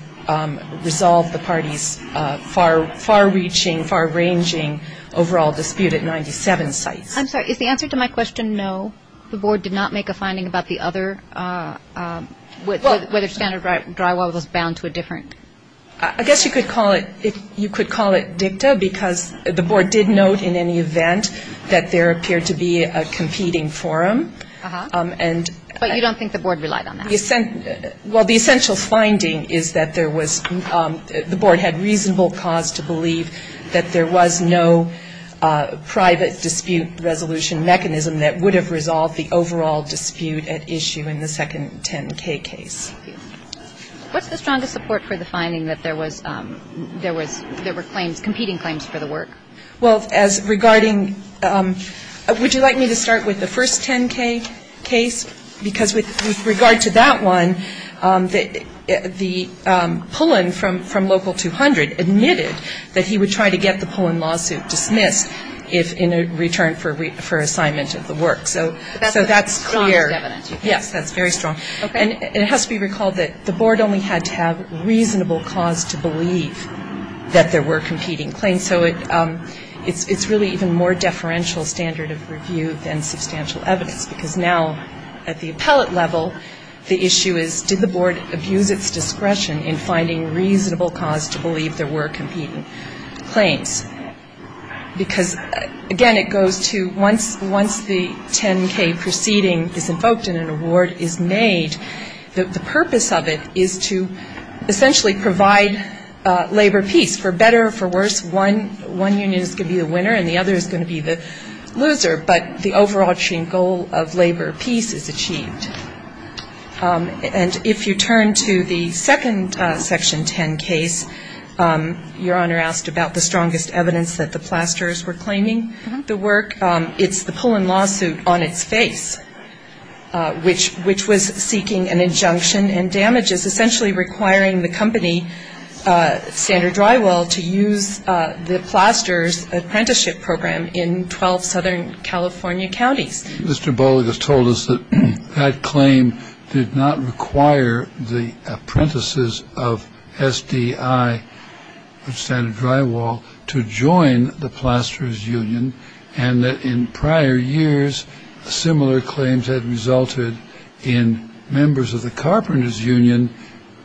resolved the parties' far-far reaching, far ranging overall dispute at 97 sites. I'm sorry, is the answer to my question no? The board did not make a finding about the other-what if standard drywall was bound to a different- I guess you could call it-you could call it dicta because the board did note in any event that there appeared to be a competing forum. And- But you don't think the board relied on that? Well, the essential finding is that there was-the board had reasonable cause to believe that there was no private dispute resolution mechanism that would have resolved the overall dispute at issue in the second 10K case. What's the strongest support for the finding that there was-there were claims-competing claims for the work? Well, as regarding-would you like me to start with the first 10K case? Because with regard to that one, the pull-in from local 200 admitted that he would try to get the pull-in lawsuit dismissed in return for assignment of the work. So, that's clear. Yes, that's very strong. And it has to be recalled that the board only had to have reasonable cause to believe that there were competing claims. And so, it's really even more deferential standard of review than substantial evidence. Because now, at the appellate level, the issue is did the board abuse its discretion in finding reasonable cause to believe there were competing claims. Because, again, it goes to-once the 10K proceedings is invoked and an award is made, the purpose of it is to essentially provide labor peace. For better or for worse, one union is going to be the winner and the other is going to be the loser. But the overall goal of labor peace is achieved. And if you turn to the second Section 10 case, Your Honor asked about the strongest evidence that the Plasters were claiming the work. It's the pull-in lawsuit on its face, which was seeking an injunction and damages, essentially requiring the company, Standard Drywall, to use the Plasters' apprenticeship program in 12 Southern California counties. Mr. Bowler just told us that that claim did not require the apprentices of SDI, Standard Drywall, to join the Plasters' union and that in prior years, similar claims had resulted in members of the carpenters' union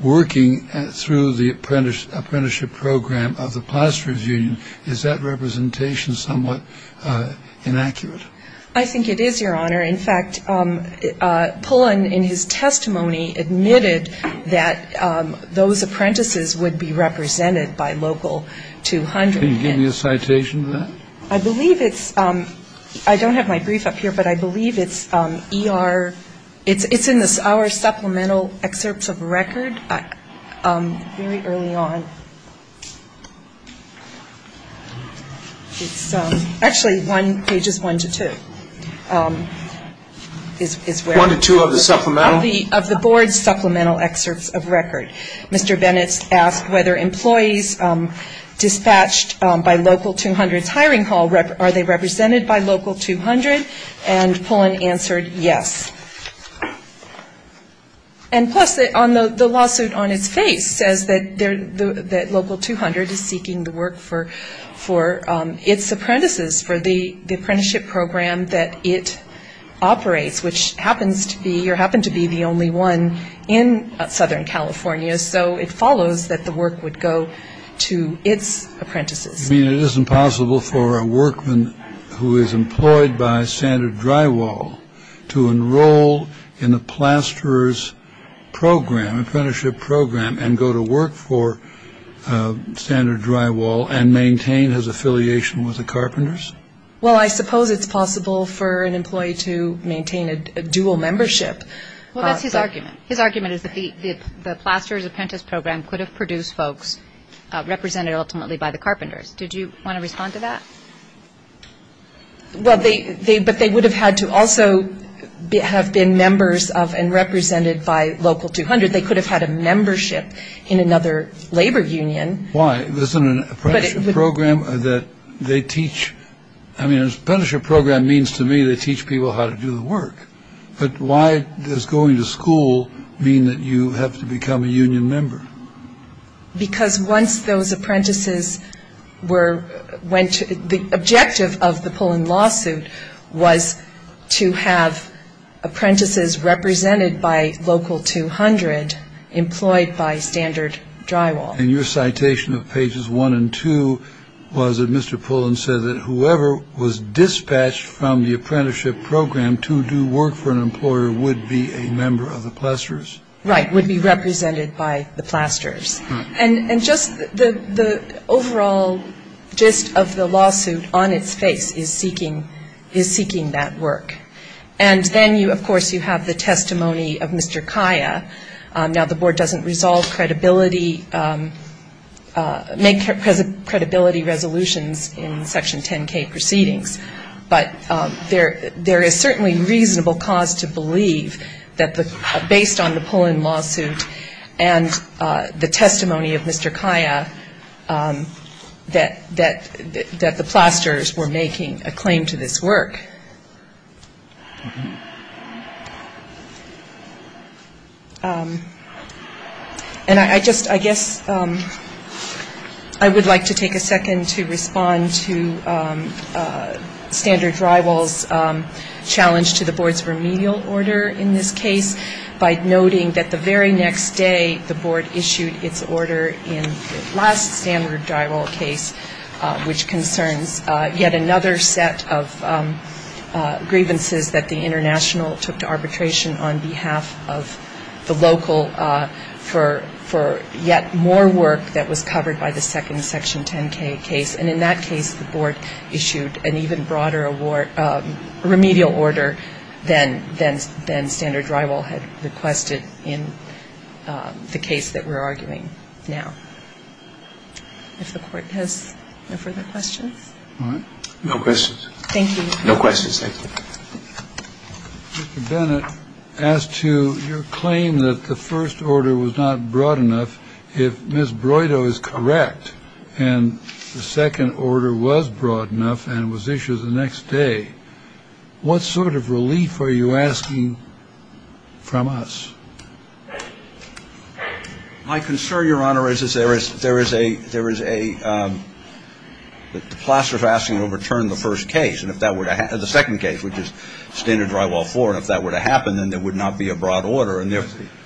working through the apprenticeship program of the Plasters' union. Is that representation somewhat inaccurate? I think it is, Your Honor. In fact, Pullen, in his testimony, admitted that those apprentices would be represented by local 200 citations. I believe it's I don't have my brief up here, but I believe it's E.R. It's in our supplemental excerpts of records very early on. Actually, pages one to two. One to two of the supplemental? Of the Board's supplemental excerpts of records. Mr. Bennett asked whether employees dispatched by local 200 hiring hall, are they represented by local 200? And Pullen answered yes. And plus, the lawsuit on its face says that local 200 is seeking to work for its apprentices, for the apprenticeship program that it operates, which happens to be or happened to be the only one in Southern California. So, it follows that the work would go to its apprentices. You mean it isn't possible for a workman who is employed by Standard Drywall to enroll in the Plasters' program, apprenticeship program, and go to work for Standard Drywall and maintain his affiliation with the carpenters? Well, I suppose it's possible for an employee to maintain a dual membership. Well, that's his argument. His argument is that the Plasters' apprentice program could have produced folks represented ultimately by the carpenters. Did you want to respond to that? Well, but they would have had to also have been members of and represented by local 200. They could have had a membership in another labor union. Why? Isn't an apprenticeship program that they teach? I mean, an apprenticeship program means to me they teach people how to do the work. But why does going to school mean that you have to become a union member? Because once those apprentices were, the objective of the Pullen lawsuit was to have apprentices represented by local 200 employed by Standard Drywall. And your citation of pages one and two was that Mr. Pullen said that whoever was dispatched from the apprenticeship program to do work for an employer would be a member of the Plasters? Right, would be represented by the Plasters. And just the overall gist of the lawsuit on its face is seeking that work. And then, of course, you have the testimony of Mr. Kaya. Now, the board doesn't resolve credibility, make credibility resolutions in Section 10K proceedings. But there is certainly reasonable cause to believe that based on the Pullen lawsuit and the testimony of Mr. Kaya that the Plasters were making a claim to this work. And I guess I would like to take a second to respond to Standard Drywall's challenge to the board's remedial order in this case by noting that the very next day the board issued its order in the last Standard Drywall case, which concerned yet another set of grievances that the international took to arbitration on behalf of the local for yet more work that was covered by the second Section 10K case. And in that case, the board issued an even broader remedial order than Standard Drywall had requested in the case that we're arguing now. Does the court have no further questions? All right. No questions. Thank you. No questions. Mr. Bennett, as to your claim that the first order was not broad enough, if Ms. Broido is correct and the second order was broad enough and was issued the next day, what sort of relief are you asking from us? My concern, Your Honor, is that there is a Plaster's asking to return the first case. And if that were to happen, the second case, which is Standard Drywall 4, if that were to happen, then there would not be a broad order.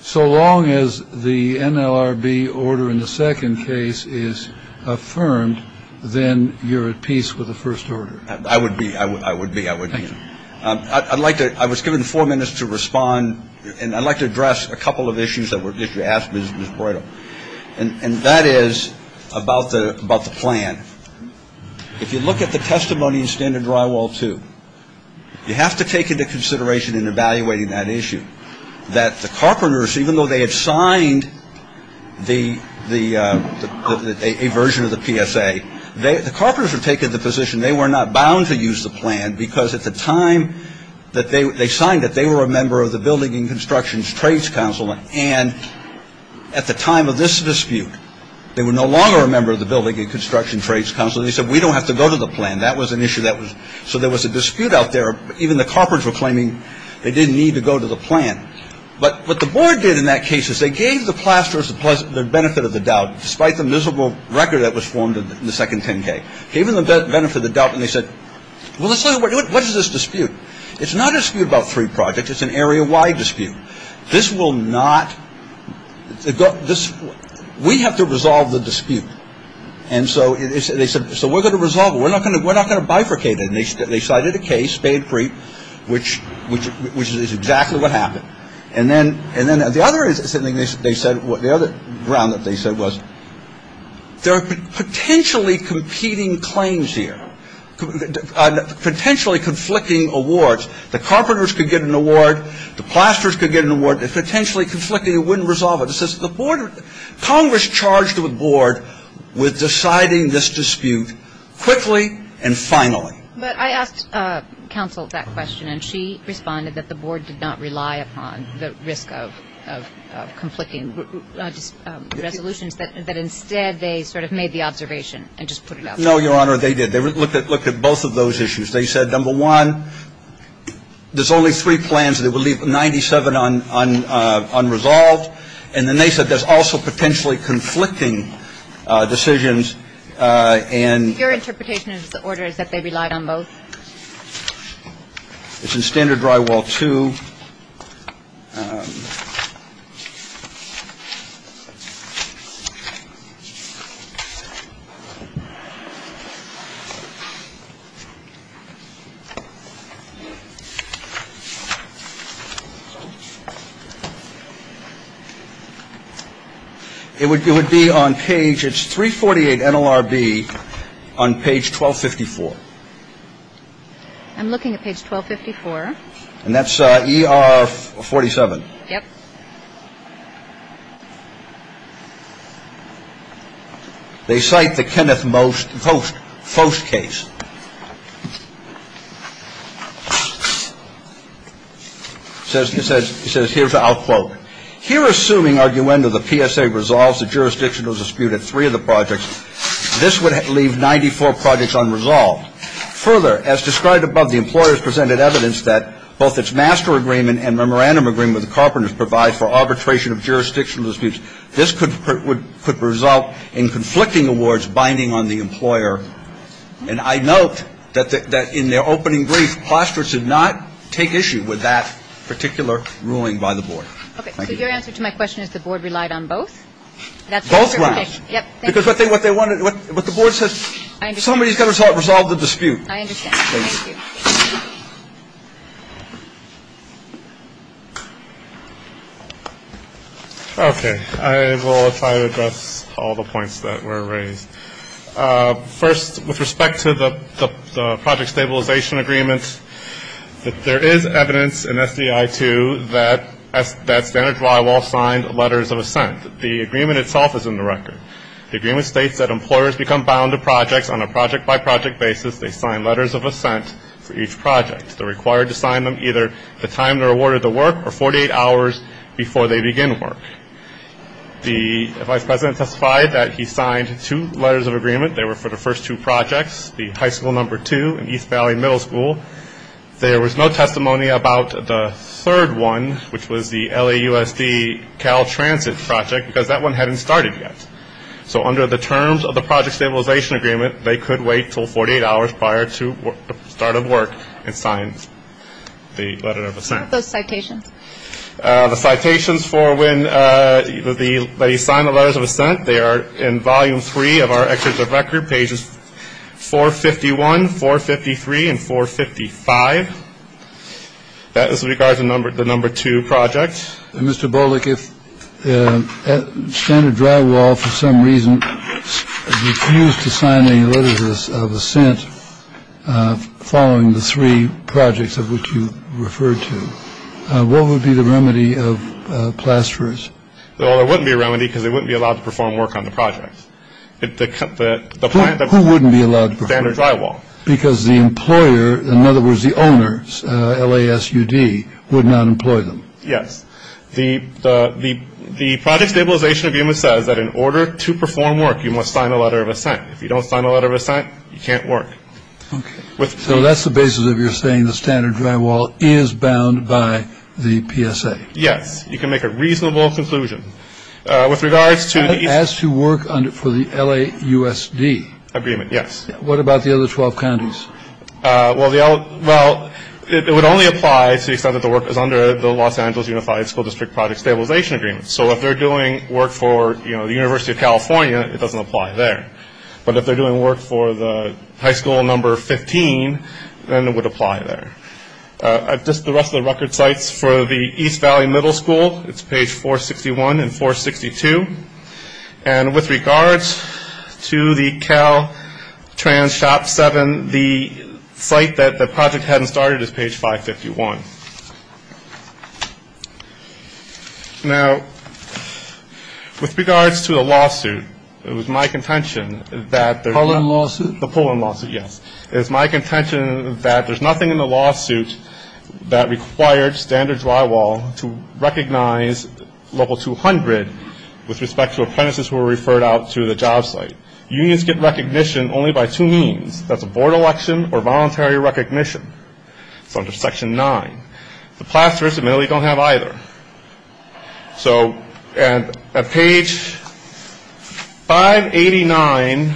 So long as the NLRB order in the second case is affirmed, then you're at peace with the first order. I would be. I would be. I would be. I was given four minutes to respond, and I'd like to address a couple of issues that were asked of Ms. Broido. And that is about the plan. If you look at the testimony in Standard Drywall 2, you have to take into consideration in evaluating that issue that the carpenters, even though they had signed a version of the PSA, the carpenters were taking the position they were not bound to use the plan because at the time that they signed it, they were a member of the Building and Construction Trades Council. And at the time of this dispute, they were no longer a member of the Building and Construction Trades Council. They said, we don't have to go to the plan. That was an issue. So there was a dispute out there. Even the carpenters were claiming they didn't need to go to the plan. But what the board did in that case is they gave the Plaster's the benefit of the doubt, despite the miserable record that was formed in the second 10-K. Gave them the benefit of the doubt, and they said, what is this dispute? It's not a dispute about three projects. It's an area-wide dispute. We have to resolve the dispute. And so they said, so we're going to resolve it. We're not going to bifurcate it. And they cited a case, Spade-Preet, which is exactly what happened. And then the other thing they said, the other round that they said was, there are potentially competing claims here, potentially conflicting awards. The carpenters could get an award. The Plaster's could get an award. It's potentially conflicting. We wouldn't resolve it. Congress charged the board with deciding this dispute quickly and finally. But I asked counsel that question, and she responded that the board did not rely upon the risk of conflicting resolutions, but instead they sort of made the observation and just put it up. No, Your Honor, they did. They looked at both of those issues. They said, number one, there's only three plans that would leave 97 unresolved. And then they said there's also potentially conflicting decisions. And your interpretation is the order is that they relied on both. It's in standard drywall, too. All right. It would be on page, it's 348 NLRB on page 1254. I'm looking at page 1254. And that's ER 47. Yep. They cite the Kenneth Post case. It says, here's the out quote. Here, assuming arguendo the PSA resolves the jurisdictional dispute of three of the projects, this would leave 94 projects unresolved. Further, as described above, the employers presented evidence that both its master agreement and memorandum agreement with the carpenters provides for arbitration of jurisdictional disputes. This could result in conflicting awards binding on the employer. And I note that in their opening brief, Ploster did not take issue with that particular ruling by the board. Okay. So your answer to my question is the board relied on both? Both ways. Yep. Because what the board says, somebody's got to resolve the dispute. I understand. Thank you. Okay. I will try to address all the points that were raised. First, with respect to the project stabilization agreements, there is evidence in SDI, too, that standard drywall signed letters of assent. The agreement itself is in the record. The agreement states that employers become bound to projects on a project-by-project basis. They sign letters of assent for each project. They're required to sign them either the time they're awarded the work or 48 hours before they begin work. The vice president testified that he signed two letters of agreement. They were for the first two projects, the high school number two and East Valley Middle School. There was no testimony about the third one, which was the LAUSD Cal Transit project, because that one hadn't started yet. So under the terms of the project stabilization agreement, they could wait until 48 hours prior to the start of work and sign the letter of assent. What about citations? The citations for when they sign the letters of assent, they are in Volume 3 of our Executive Record, pages 451, 453, and 455. That is with regard to the number two project. Mr. Bullock, if standard drywall for some reason refused to sign any letters of assent following the three projects of which you referred to, what would be the remedy of plasterers? Well, there wouldn't be a remedy because they wouldn't be allowed to perform work on the project. Who wouldn't be allowed to perform work? Standard drywall. Because the employer, in other words the owners, LASUD, would not employ them. Yes. The project stabilization agreement says that in order to perform work, you must sign a letter of assent. If you don't sign a letter of assent, you can't work. Okay. So that's the basis of your saying the standard drywall is bound by the PSA. Yes. You can make a reasonable conclusion. As to work for the LAUSD. Agreement, yes. What about the other 12 counties? Well, it would only apply because the work is under the Los Angeles Unified School District Project Stabilization Agreement. So if they're doing work for the University of California, it doesn't apply there. But if they're doing work for the high school number 15, then it would apply there. This is the rest of the record sites for the East Valley Middle School. It's page 461 and 462. And with regards to the Caltrans Shop 7, the site that the project hadn't started is page 551. Now, with regards to the lawsuit, it was my contention that there's not. Pull-in lawsuit? The pull-in lawsuit, yes. It was my contention that there's nothing in the lawsuit that required standard drywall to recognize level 200 with respect to apprentices who were referred out to the job site. Unions get recognition only by two means. That's a board election or voluntary recognition. It's under section 9. The plasters, admittedly, don't have either. So at page 589,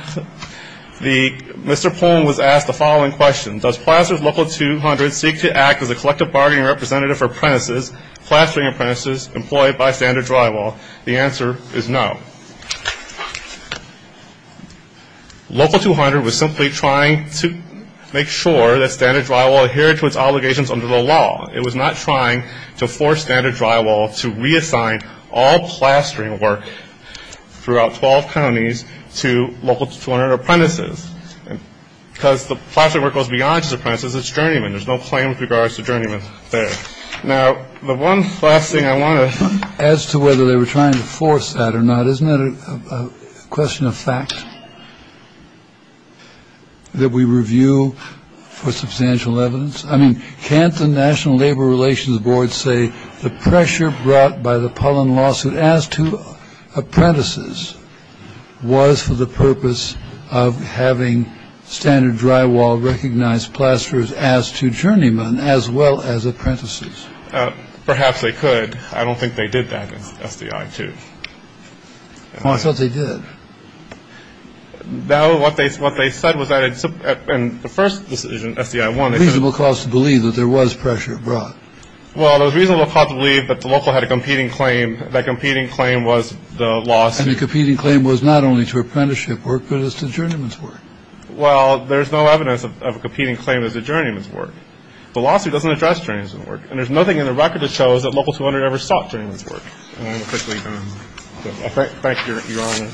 Mr. Pull-in was asked the following question. Does Plastered Local 200 seek to act as a collective bargaining representative for apprentices, plastering apprentices employed by standard drywall? The answer is no. Local 200 was simply trying to make sure that standard drywall adhered to its obligations under the law. It was not trying to force standard drywall to reassign all plastering work throughout 12 counties to Local 200 apprentices. Because the plastering work goes beyond just apprentices. It's journeymen. There's no claim with regards to journeymen there. Now, the one last thing I want to ask, as to whether they were trying to force that or not, isn't that a question of fact that we review for substantial evidence? I mean, can't the National Labor Relations Board say the pressure brought by the pollen lawsuit as to apprentices was for the purpose of having standard drywall recognized plasters as to journeymen as well as apprentices? Perhaps they could. I don't think they did that. Well, I thought they did. Now, what they said was that in the first decision, SDI-1. Reasonable cause to believe that there was pressure brought. Well, there was reasonable cause to believe that the local had a competing claim. That competing claim was the lawsuit. And the competing claim was not only to apprenticeship work, but it's to journeymen's work. Well, there's no evidence of a competing claim that the journeymen's work. The lawsuit doesn't address journeymen's work. And there's nothing in the record that shows that local 200 ever stopped journeymen's work. Thank you, Your Honor.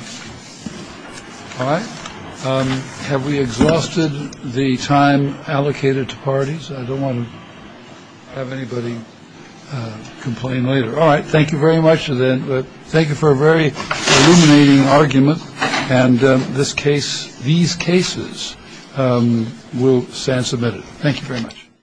All right. Have we exhausted the time allocated to parties? I don't want to have anybody complain later. All right. Thank you very much. Thank you for a very illuminating argument. And this case, these cases will stand submitted. Thank you very much.